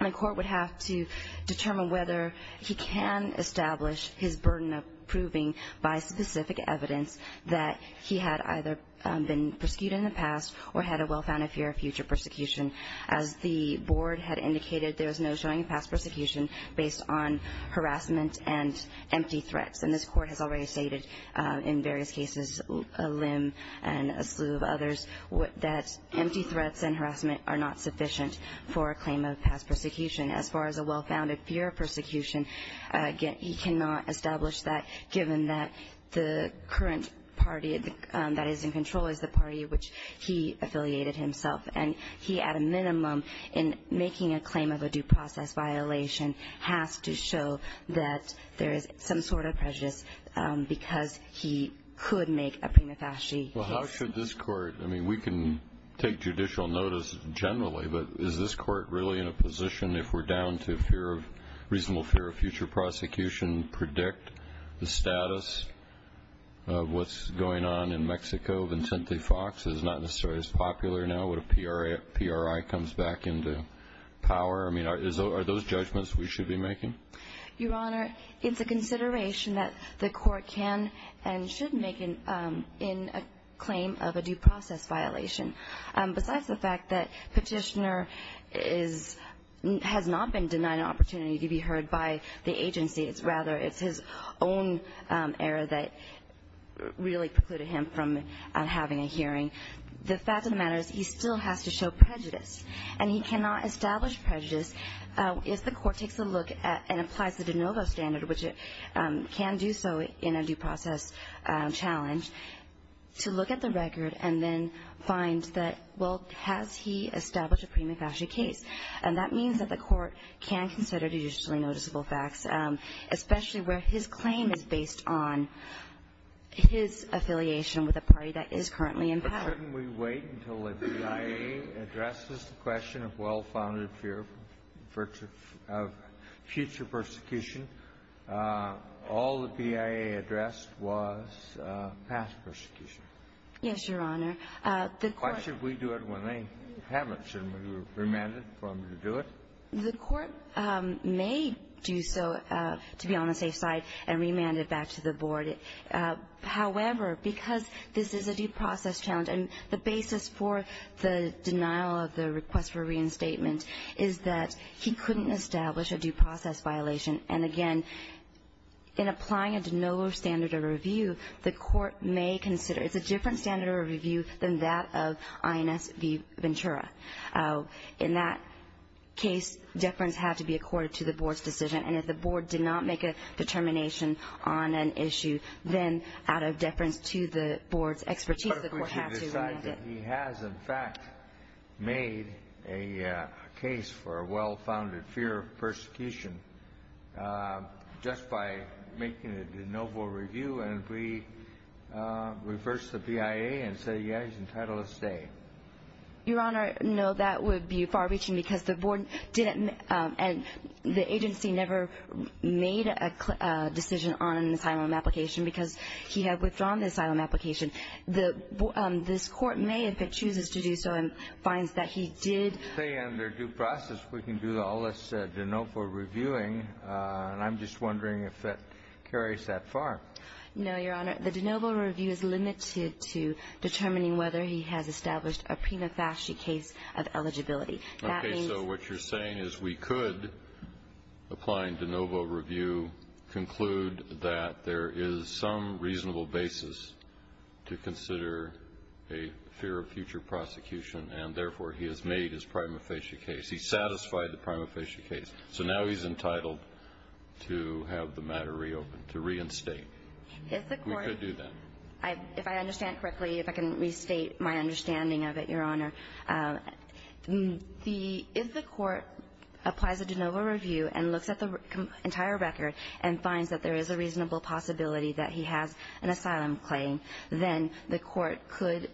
my court would have to determine whether he can establish his burden of proving by specific evidence that he had either been pursued in the past or had a well-founded fear of future persecution as The board had indicated. There was no showing past persecution based on Harassment and empty threats and this court has already stated in various cases Limb and a slew of others what that empty threats and harassment are not sufficient for a claim of past persecution As far as a well-founded fear of persecution Again, he cannot establish that given that the current party that is in control is the party Which he affiliated himself and he at a minimum in making a claim of a due process Violation have to show that there is some sort of prejudice Because he could make a penetration Well, how should this court? I mean we can take judicial notice generally But is this court really in a position if we're down to fear of reasonable fear of future prosecution predict the status? What's going on in Mexico? Vincent Lee Fox is not necessarily as popular now with a PR a PRI comes back into power I mean are those judgments we should be making your honor. It's a consideration that the court can and should make in in a claim of a due process violation, but that's the fact that petitioner is Has not been denied opportunity to be heard by the agency. It's rather it's his own error that Really precluded him from having a hearing the fact of the matter You still have to show prejudice and he cannot establish prejudice If the court takes a look at and applies the de novo standard which it can do so in a due process challenge To look at the record and then find that well has he established a premature case? And that means that the court can consider the usually noticeable facts Especially where his claim is based on His affiliation with a party that is currently in power We wait until the CIA addresses the question of well-founded fear for future persecution All the CIA addressed was past persecution Yes, your honor The question we do it when they haven't and we were remanded from to do it the court May do so to be on the safe side and remanded back to the board However, because this is a due process challenge and the basis for the denial of the request for reinstatement Is that he couldn't establish a due process violation and again? In applying a de novo standard of review the court may consider it's a different standard of review than that of INS Ventura in that Case deference have to be accorded to the board's decision and if the board did not make a determination on an issue Then out of deference to the board's expertise he has in fact made a case for a well-founded fear of persecution just by making it the noble review and we Reverse the PIA and say yeah, he's entitled to stay Your honor. No, that would be far-reaching because the board didn't and the agency never Made a decision on an asylum application because he had withdrawn the asylum application the This court may if it chooses to do so and finds that he did say under due process We can do all this said to know for reviewing and I'm just wondering if that carries that far No, your honor. The de novo review is limited to determining whether he has established a prima facie case of eligibility So what you're saying is we could? Applying de novo review Conclude that there is some reasonable basis to consider a Fear of future prosecution and therefore he has made his prima facie case. He satisfied the prima facie case. So now he's entitled To have the matter reopened to reinstate If I understand correctly if I can restate my understanding of it your honor The if the court Applies a de novo review and looks at the entire record and finds that there is a reasonable possibility that he has an asylum claim then the court could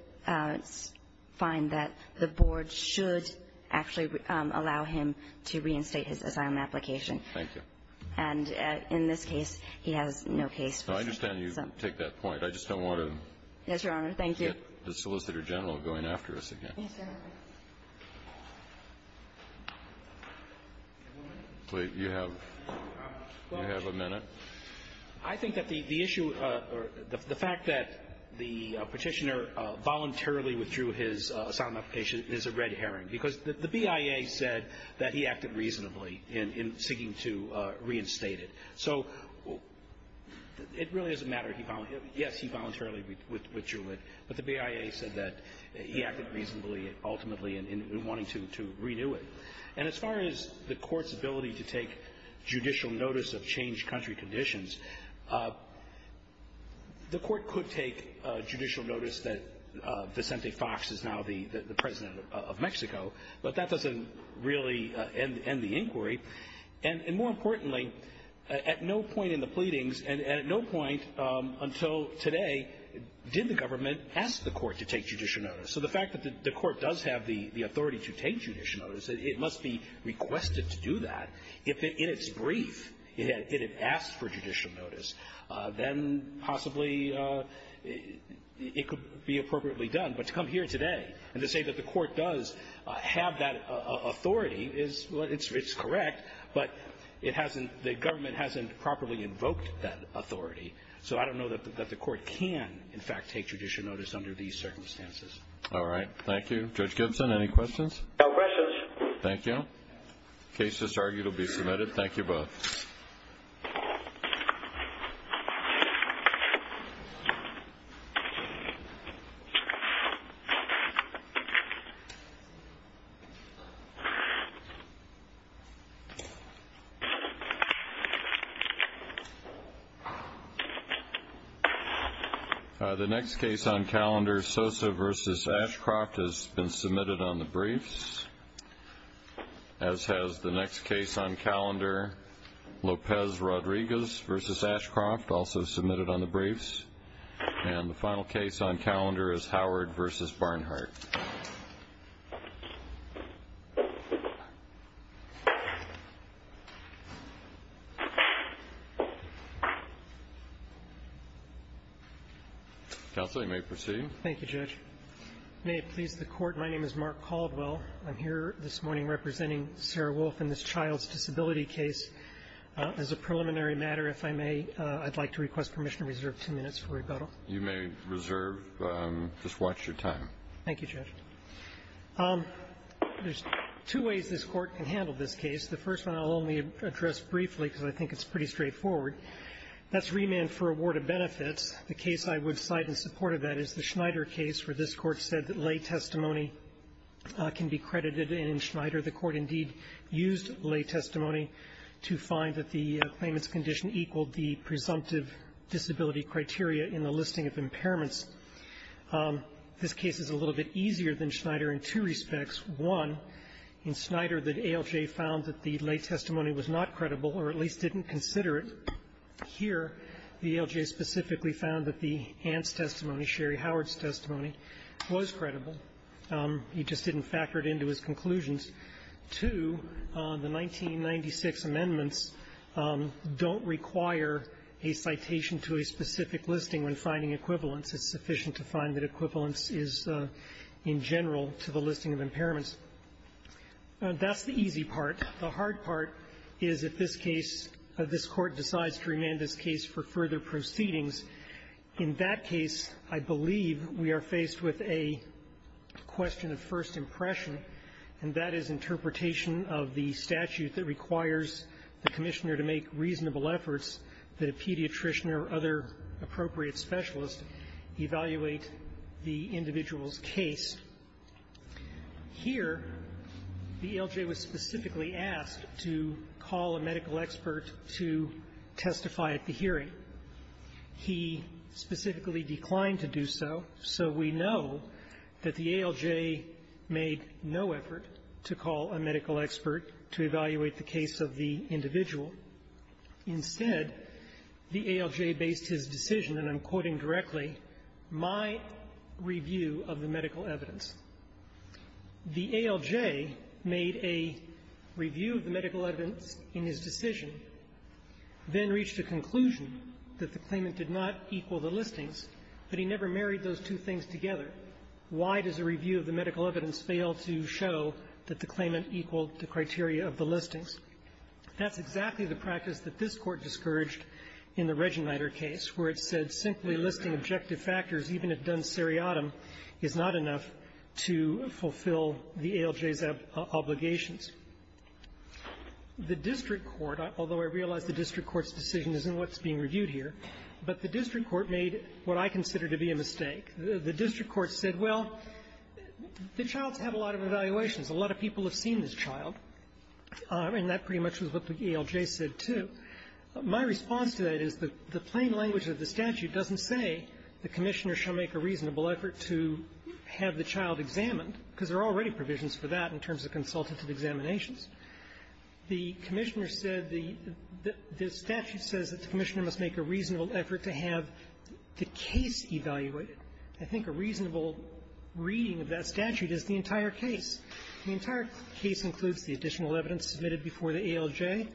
Find that the board should actually allow him to reinstate his asylum application Thank you. And in this case, he has no case. I understand you take that point. I just don't want to Thank you I Think that the issue or the fact that the petitioner Voluntarily withdrew his asylum application is a red herring because the BIA said that he acted reasonably in seeking to reinstate it so It really doesn't matter if you found him. Yes, he voluntarily withdrew it, but the BIA said that Ultimately in wanting to renew it and as far as the court's ability to take judicial notice of changed country conditions The court could take judicial notice that Vicente Fox is now the president of Mexico, but that doesn't really end the inquiry and more importantly At no point in the pleadings and at no point until today Did the government ask the court to take judicial notice so the fact that the court does have the the authority to take judicial notice It must be requested to do that if it is brief. Yeah, it is asked for judicial notice then possibly It could be appropriately done but to come here today and to say that the court does have that Authority is it's correct, but it hasn't the government hasn't properly invoked that authority So, I don't know that the court can in fact take judicial notice under these circumstances. All right. Thank you Judge Gibson any questions? Thank you Case just argued will be submitted. Thank you both The Next case on calendar Sosa vs. Ashcroft has been submitted on the briefs As has the next case on calendar Lopez Rodriguez versus Ashcroft also submitted on the briefs and the final case on calendar is Howard versus Barnhart I Hope they may proceed. Thank you judge They please the court. My name is Mark Colville. I'm here this morning representing Sarah Wolfe in this child's disability case As a preliminary matter if I may I'd like to request permission to reserve two minutes for rebuttal you may reserve Just watch your time. Thank you, Jeff There's two ways this court can handle this case the first one I'll only address briefly because I think it's pretty straightforward That's remand for award of benefit The case I would fight in support of that is the Schneider case for this court said that lay testimony Can be credited in Schneider the court indeed used lay testimony to find that the famous condition equaled the presumptive disability criteria in the listing of impairments This case is a little bit easier than Schneider in two respects one In Schneider that ALJ found that the lay testimony was not credible or at least didn't consider it Here the ALJ specifically found that the aunt's testimony Sherry Howard's testimony was credible He just didn't factor it into his conclusions to the 1996 amendments Don't require a citation to a specific listing when finding equivalence. It's sufficient to find that equivalence is in general to the listing of impairments Now that's the easy part the hard part is if this case of this court decides to remain this case for further proceedings in that case, I believe we are faced with a question of first impression and that is interpretation of the statute that requires the Commissioner to make reasonable efforts the pediatrician or other appropriate specialists evaluate the individual's case Here the ALJ was specifically asked to call a medical expert to testify at the hearing He specifically declined to do so so we know that the ALJ Made no effort to call a medical expert to evaluate the case of the individual instead the ALJ based his decision and I'm quoting directly my Review of the medical evidence the ALJ made a Review of the medical evidence in his decision Then reached a conclusion that the claimant did not equal the listing but he never married those two things together Why does a review of the medical evidence fail to show that the claimant equal the criteria of the listing? That's exactly the practice that this court discouraged in the Regenleiter case where it said simply listing objective factors Even if done seriatim, it's not enough to fulfill the ALJ's obligations The district court, although I realize the district court's decision isn't what's being reviewed here But the district court made what I consider to be a mistake. The district court said well The child had a lot of evaluations. A lot of people have seen this child And that pretty much was what the ALJ said too My response to that is the plain language of the statute doesn't say the commissioner shall make a reasonable effort to Have the child examined because there are already provisions for that in terms of consultative examinations the commissioner said the This statute says that the commissioner must make a reasonable effort to have the case evaluated. I think a reasonable Reading of that statute is the entire case the entire case includes the additional evidence submitted before the ALJ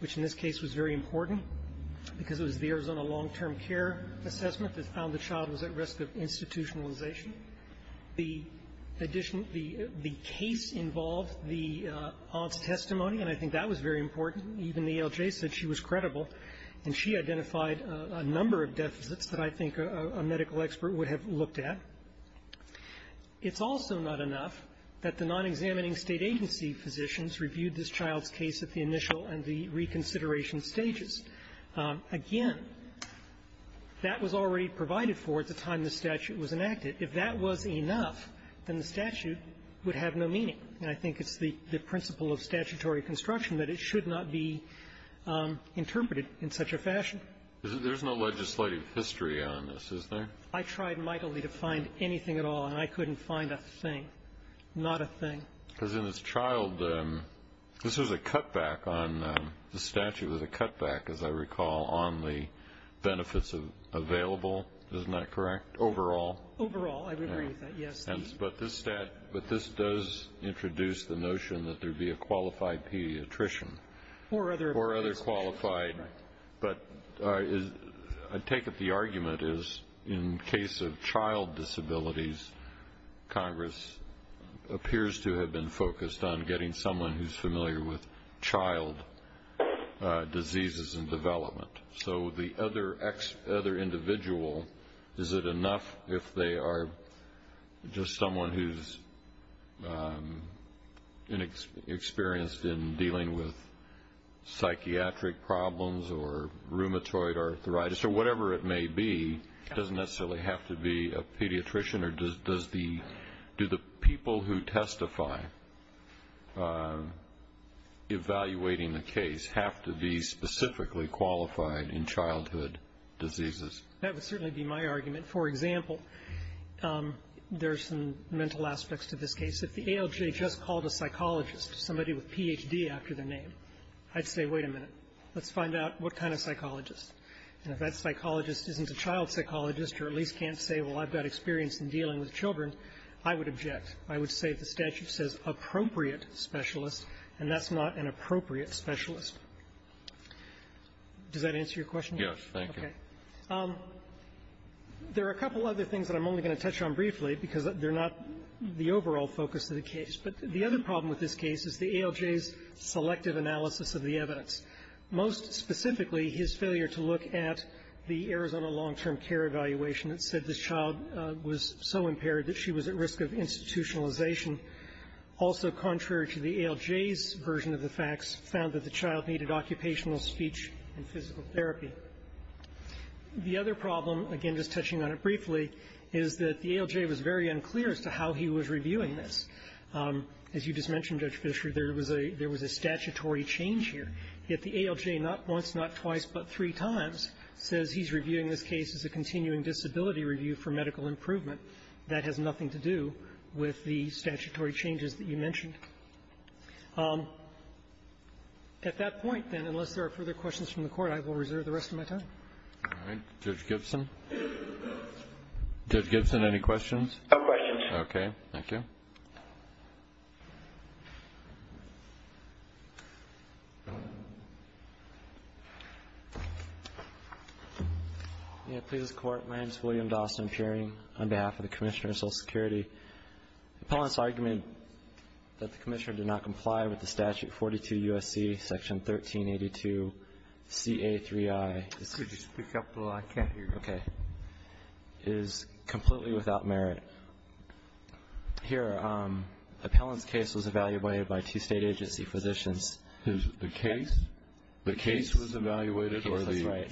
Which in this case was very important because it bears on a long-term care assessment that found the child was at risk of institutionalization the addition the the case involved the Testimony, and I think that was very important Even the ALJ said she was credible and she identified a number of deficits that I think a medical expert would have looked at It's also not enough that the non-examining state agency physicians reviewed this child's case at the initial and the reconsideration stages again That was already provided for at the time The statute was enacted if that wasn't enough then the statute would have no meaning and I think it's the principle of statutory construction that it should not be Interpreted in such a fashion There's no legislative history on this is there I tried mightily to find anything at all and I couldn't find a thing Not a thing because in this child this is a cutback on the statute with a cutback as I recall on the Benefits of available, isn't that correct overall overall? But this stat, but this does introduce the notion that there'd be a qualified pediatrician or other or other qualified But I take up the argument is in case of child disabilities Congress Appears to have been focused on getting someone who's familiar with child Diseases and development so the other X other individual is it enough if they are just someone who's Experienced in dealing with Rheumatoid arthritis or whatever. It may be doesn't necessarily have to be a pediatrician or does does the Do the people who testify? Evaluating the case have to be specifically qualified in childhood diseases that would certainly be my argument for example There's some mental aspects to this case that the ALJ just called a psychologist somebody with PhD after the name I'd say wait a minute. Let's find out what kind of psychologist and if that psychologist isn't a child psychologist or at least can't say Well, I've got experience in dealing with children. I would object. I would say the statute says appropriate Specialists and that's not an appropriate specialist Does that answer your question? Yes, thank you There are a couple other things that I'm only going to touch on briefly because they're not The overall focus of the case, but the other problem with this case is the ALJ's Selective analysis of the evidence most specifically his failure to look at the Arizona long-term care evaluation It said this child was so impaired that she was at risk of institutionalization Also contrary to the ALJ's version of the facts found that the child needed occupational speech and physical therapy The other problem again, just touching on it briefly is that the ALJ was very unclear as to how he was reviewing this As you just mentioned judge Fisher there was a there was a statutory change here If the ALJ not once not twice, but three times says he's reviewing this case as a continuing disability review for medical improvement That has nothing to do with the statutory changes that you mentioned Um At that point then unless there are further questions from the court, I will reserve the rest of my time Judge Gibson Judge Gibson any questions? Okay. Thank you And to the court my name is William Dawson hearing on behalf of the Commissioner of Social Security Appellants argument that the Commissioner did not comply with the statute 42 USC section 1382 CA 3 I Okay is completely without merit Here Appellant case was evaluated by two state agency physicians. Is the case the case was evaluated or the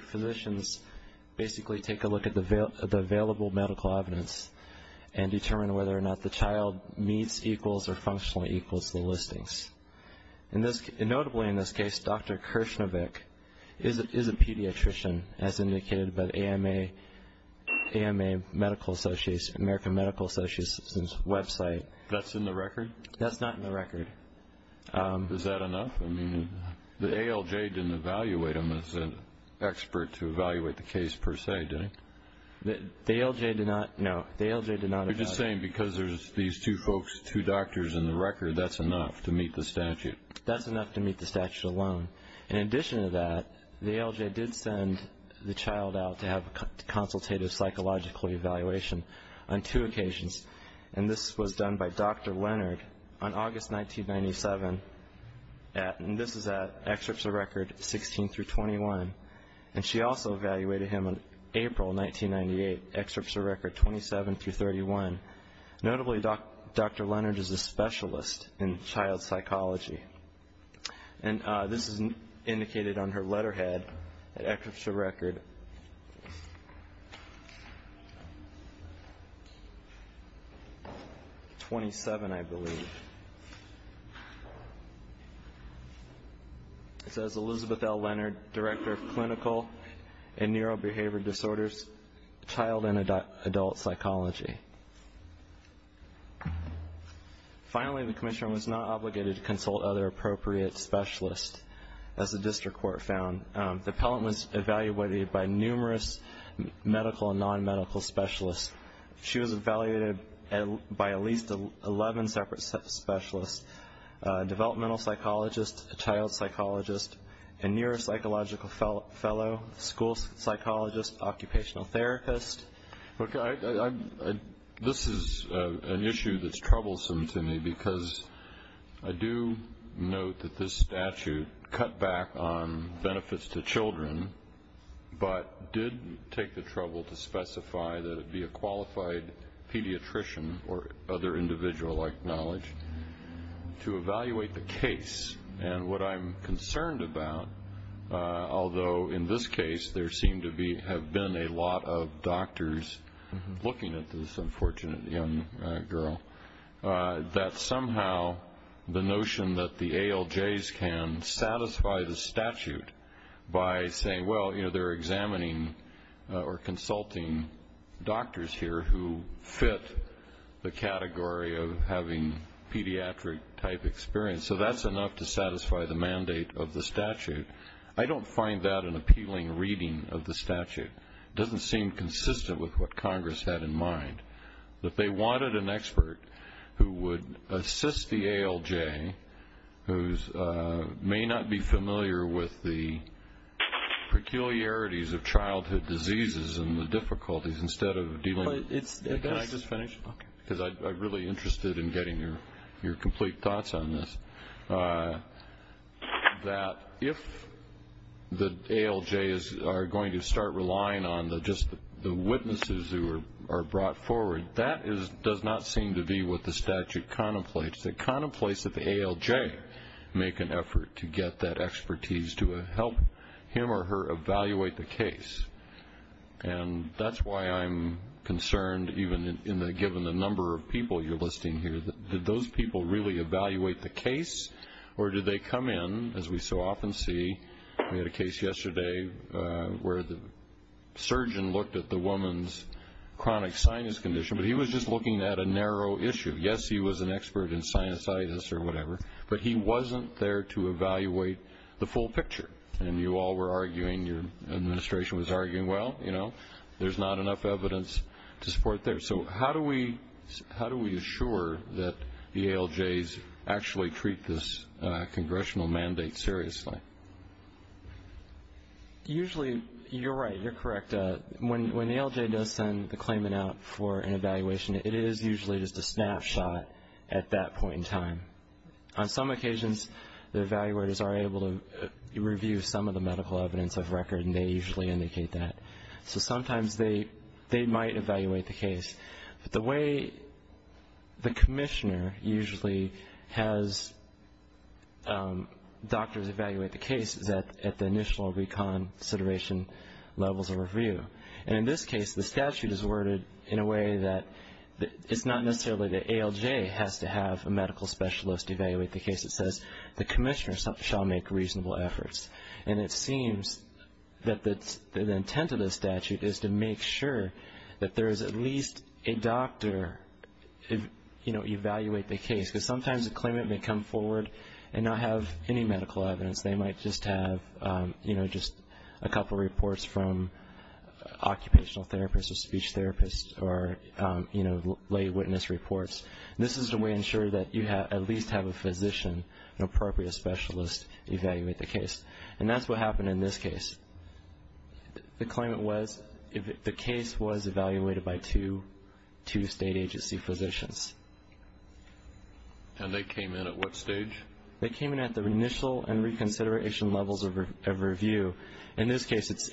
Physicians basically take a look at the available medical evidence and Determine whether or not the child meets equals or functionally equals the listings and this notably in this case. Dr Kirshner Vic is a pediatrician as indicated by the AMA AMA Medical Association American Medical Association's website that's in the record. That's not in the record Is that enough? I mean the ALJ didn't evaluate them as a Expert to evaluate the case per se doing the ALJ did not know the ALJ did not I'm just saying because there's these two folks two doctors in the record. That's enough to meet the statute That's enough to meet the statute alone in addition to that the ALJ did send the child out to have a Consultative psychological evaluation on two occasions and this was done by. Dr. Leonard on August 1997 At and this is at excerpts of record 16 through 21 and she also evaluated him on April 1998 excerpts of record 27 to 31 Notably, dr. Leonard is a specialist in child psychology and This is indicated on her letterhead excerpts of record 27 I believe It Says Elizabeth L Leonard director of clinical and neurobehavioral disorders child and adult psychology Finally the commission was not obligated to consult other appropriate specialists as the district court found developments evaluated by numerous medical and non-medical specialists She was evaluated and by at least 11 separate specialists Developmental psychologist a child psychologist and neuropsychological fellow fellow school psychologist occupational therapist This is an issue that's troublesome to me because I do Note that this statute cut back on benefits to children But did take the trouble to specify that it'd be a qualified pediatrician or other individual like knowledge To evaluate the case and what I'm concerned about Although in this case there seem to be have been a lot of doctors Looking at this unfortunate young girl That somehow the notion that the ALJ's can satisfy the statute By saying well, you know, they're examining or consulting doctors here who fit the category of having Pediatric type experience so that's enough to satisfy the mandate of the statute I don't find that an appealing reading of the statute doesn't seem consistent with what Congress had in mind But they wanted an expert who would assist the ALJ whose may not be familiar with the Peculiarities of childhood diseases and the difficulties instead of Then I just finished because I'm really interested in getting your your complete thoughts on this That if The ALJ's are going to start relying on the just the witnesses who are brought forward That is does not seem to be what the statute contemplates that contemplates that the ALJ make an effort to get that expertise to help him or her evaluate the case and That's why I'm concerned even in the given the number of people you're listing here Did those people really evaluate the case or did they come in as we so often see we had a case yesterday? where the Surgeon looked at the woman's chronic sinus condition, but he was just looking at a narrow issue Yes, he was an expert in sinusitis or whatever But he wasn't there to evaluate the full picture and you all were arguing your administration was arguing Well, you know, there's not enough evidence to support there. So how do we how do we assure that the ALJ's? actually treat this congressional mandate seriously Usually you're right you're correct When the ALJ does send the claimant out for an evaluation it is usually just a snapshot at that point in time on some occasions the evaluators are able to So sometimes they they might evaluate the case the way the commissioner usually has Doctors evaluate the case that at the initial reconsideration Levels of review and in this case the statute is worded in a way that It's not necessarily the ALJ has to have a medical specialist evaluate the case It says the commissioners shall make reasonable efforts and it seems That the intent of the statute is to make sure that there is at least a doctor To you know evaluate the case because sometimes the claimant may come forward and not have any medical evidence they might just have you know, just a couple reports from occupational therapists speech therapists or You know lay witness reports This is the way ensure that you have at least have a physician an appropriate specialist Evaluate the case and that's what happened in this case The claimant was if the case was evaluated by two to state agency physicians And they came in at what stage they came in at the initial and reconsideration levels of review in this case it's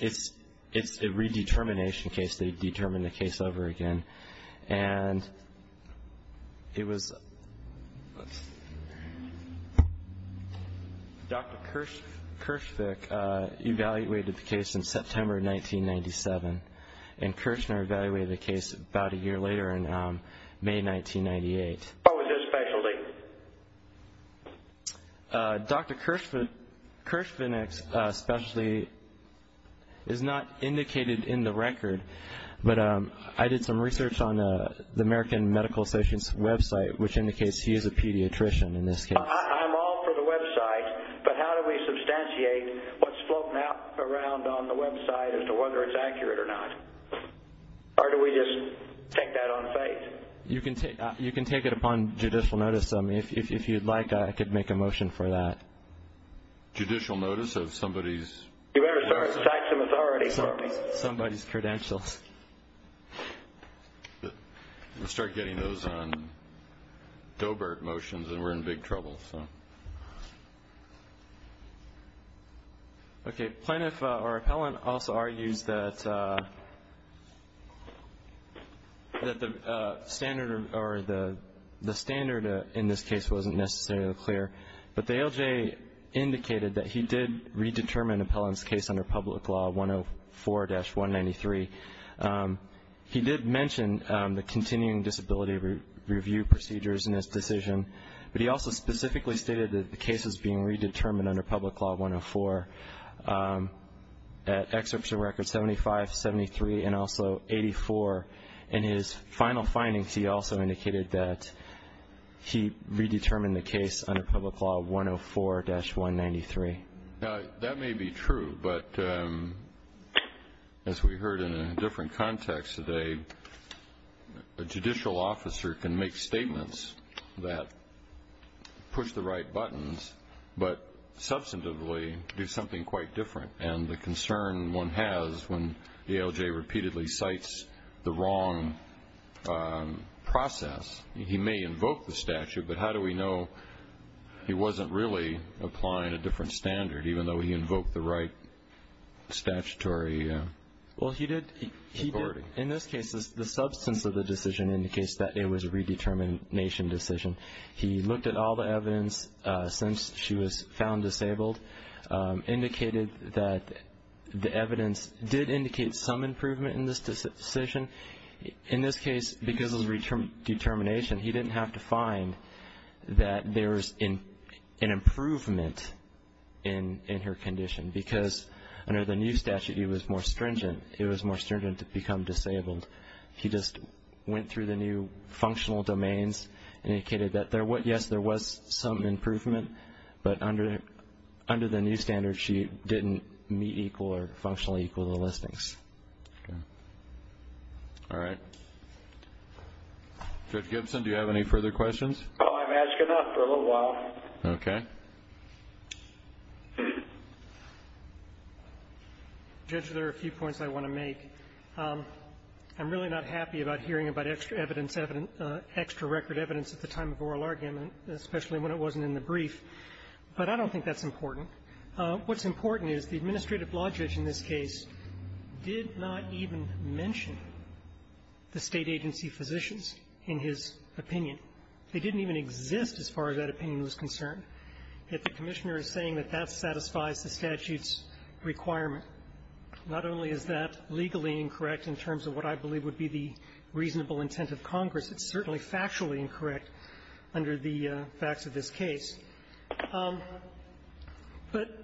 it's a redetermination case to determine the case over again and It was Dr. Kirsch Kirsch pick evaluated the case in September 1997 and Kirschner evaluate the case about a year later in May 1998 Dr. Kirschman Kirschman especially Is not indicated in the record But I did some research on the American Medical Association's website which indicates he is a pediatrician in this You can take you can take it upon judicial notice them if you'd like I could make a motion for that judicial notice of somebody's Authority somebody's credentials Start getting those on Doebert motions and we're in big trouble Okay, sign up our appellant also argued that That the standard or the the standard in this case wasn't necessarily clear but the LJ Indicated that he did redetermine appellants case under public law 104 dash 193 He did mention the continuing disability review procedures in this decision But he also specifically stated that the case was being redetermined under public law 104 At exception record 75 73 and also 84 and his final findings. He also indicated that He redetermined the case under public law 104 dash 193 now that may be true, but As we heard in a different context today a judicial officer can make statements that push the right buttons, but Substantively to do something quite different and the concern one has when the LJ repeatedly cites the wrong Process he may invoke the statute, but how do we know? He wasn't really applying a different standard even though he invoked the right statutory Well, he did he did in this case is the substance of the decision in the case that it was a redetermined nation decision He looked at all the evidence Since she was found disabled indicated that The evidence did indicate some improvement in this decision in this case because of return determination He didn't have to find that there's in an Improvement in in her condition because under the new statute he was more stringent It was more stringent to become disabled He just went through the new functional domains indicated that there was yes Didn't meet equal or functionally equal the listings All right Good Gibson, do you have any further questions? Okay Judge there are a few points. I want to make I'm really not happy about hearing about extra evidence evidence Extra record evidence at the time of oral argument, especially when it wasn't in the brief, but I don't think that's important What's important is the administrative logic in this case? Did not even mention The state agency physicians in his opinion. They didn't even exist as far as that opinion was concerned If the commissioner is saying that that satisfies the statutes Requirement not only is that legally incorrect in terms of what I believe would be the reasonable intent of Congress It's certainly factually incorrect under the facts of this case But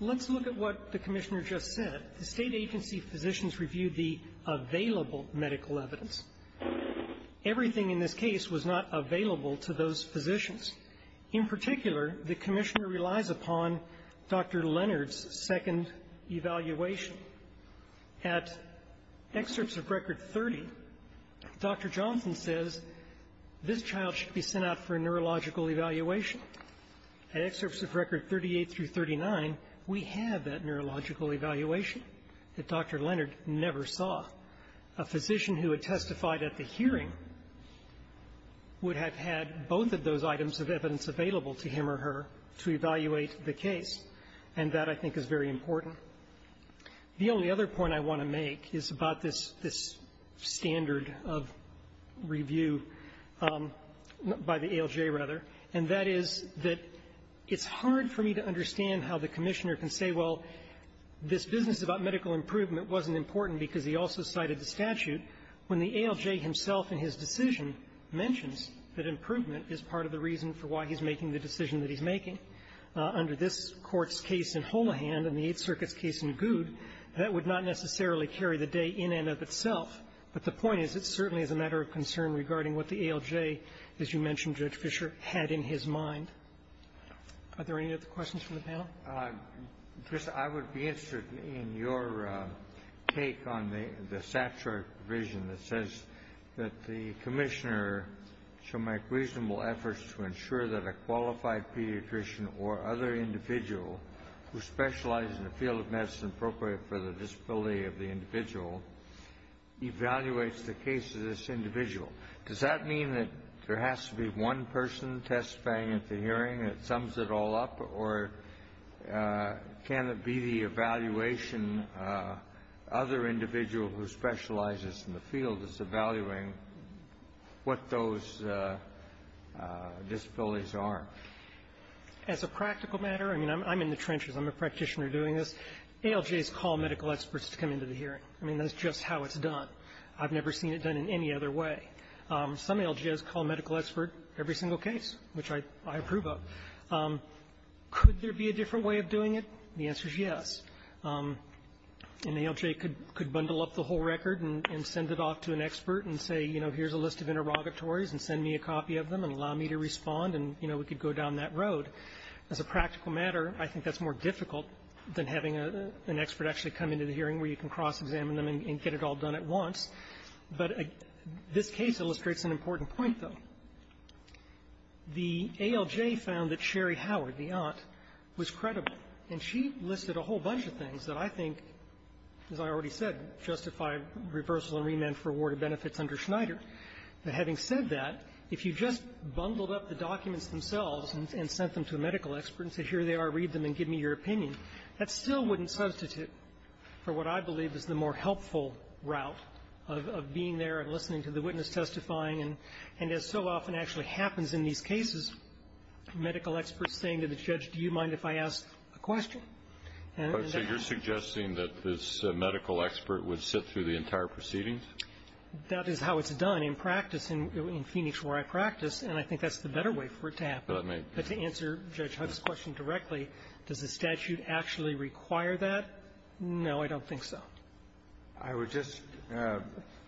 Let's look at what the commissioner just said the state agency physicians reviewed the available medical evidence Everything in this case was not available to those positions in particular. The commissioner relies upon Dr. Leonard's second evaluation at excerpts of record 30 Dr. Johnson says This child should be sent out for a neurological evaluation excerpts of record 38 through 39 We have that neurological evaluation that dr. Leonard never saw a physician who had testified at the hearing Would have had both of those items of evidence available to him or her to evaluate the case and that I think is very important The only other point I want to make is about this this standard of review By the ALJ rather and that is that it's hard for me to understand how the commissioner can say well This business about medical improvement wasn't important because he also cited the statute when the ALJ himself in his decision Mentions that improvement is part of the reason for why he's making the decision that he's making Under this court's case in Holohan and the 8th Circus case in good that would not necessarily carry the day in and of itself But the point is it certainly is a matter of concern regarding what the ALJ as you mentioned rich Fisher had in his mind Are there any other questions for the panel? Just I would be interested in your Take on the the stature vision that says that the commissioner Shall make reasonable efforts to ensure that a qualified pediatrician or other individual Who specializes in the field of medicine appropriate for the disability of the individual? Evaluates the case of this individual. Does that mean that there has to be one person testifying at the hearing? it sums it all up or Can it be the evaluation other individual who specializes in the field is evaluating what those Disabilities are As a practical matter, I mean, I'm in the trenches I'm a practitioner doing this ALJs call medical experts to come into the hearing. I mean, that's just how it's done. I've never seen it done in any other way Some ALJs call medical expert every single case which I I approve of Could there be a different way of doing it? The answer is yes And ALJ could could bundle up the whole record and send it off to an expert and say, you know Here's a list of interrogatories and send me a copy of them and allow me to respond and you know We could go down that road as a practical matter I think that's more difficult than having a an expert actually come into the hearing where you can cross-examine them and get it all done at once But this case illustrates an important point though The ALJ found that Sherry Howard the aunt was credible and she listed a whole bunch of things that I think As I already said justify reversal and remand for award of benefits under Schneider But having said that if you just bundled up the documents themselves and sent them to a medical expert and say here they are read them And give me your opinion that still wouldn't substitute For what? I believe is the more helpful route of being there and listening to the witness testifying and and it's so often actually happens in these cases Medical experts saying to the judge. Do you mind if I ask a question? So you're suggesting that this medical expert would sit through the entire proceedings That is how it's done in practice and in Phoenix where I practice and I think that's the better way for it to happen But to answer judge Hudson's question directly does the statute actually require that? No, I don't think so. I would just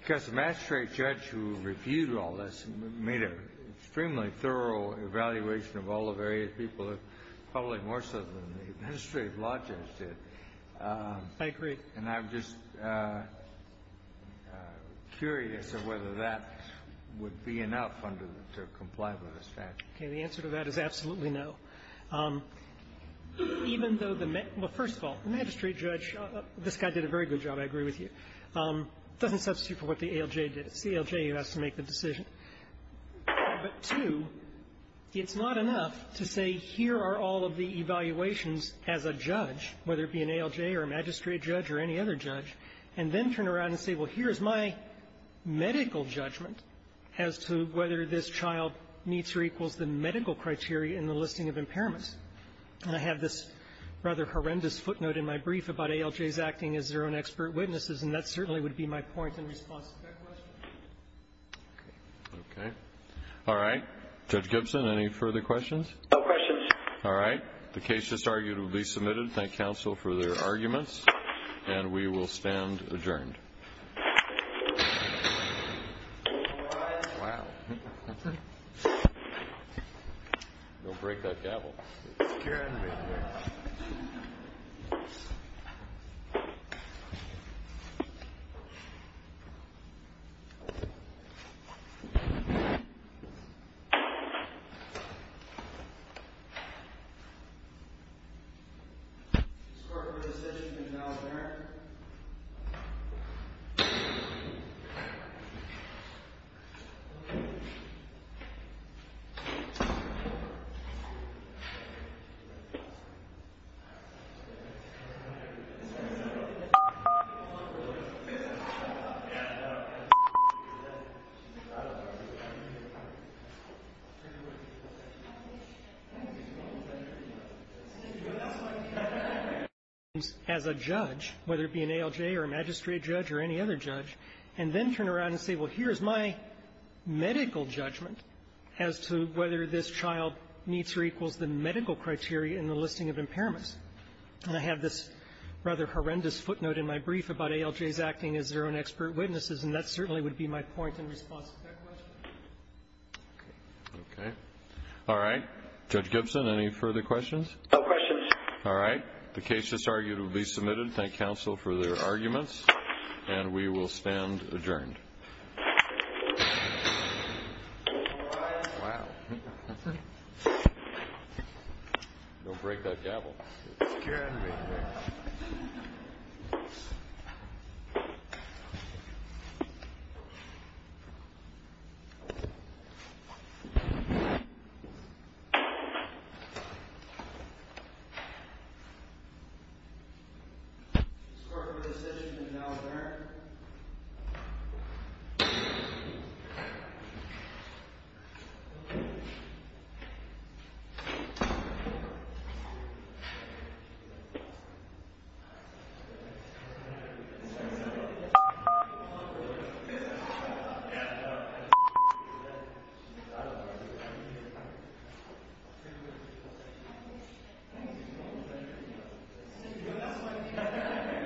Just master a judge who reviewed all this and made a extremely thorough Evaluation of all the various people have probably more so than the administrative logistic thank you, and I've just Curious of whether that would be enough to comply with the statute. The answer to that is absolutely no Even though the first of all magistrate judge this guy did a very good job. I agree with you Doesn't substitute for what the ALJ did. It's the ALJ who has to make the decision but two It's not enough to say here are all of the evaluations as a judge Whether it be an ALJ or a magistrate judge or any other judge and then turn around and say well here's my Medical judgment as to whether this child meets or equals the medical criteria in the listing of impairments And I have this rather horrendous footnote in my brief about ALJs acting as their own expert witnesses And that certainly would be my point in response Okay, all right judge Gibson any further questions No questions. All right, the case just argued will be submitted by counsel for their arguments and we will stand adjourned second As a judge whether it be an ALJ or a magistrate judge or any other judge And then turn around and say well, here's my medical judgment as to whether this child meets or equals the medical criteria in the listing of impairments and I have this Rather horrendous footnote in my brief about ALJs acting as their own expert witnesses and that certainly would be my point in response Okay, all right judge Gibson any further questions All right, the cases argued will be submitted by counsel for their arguments and we will stand adjourned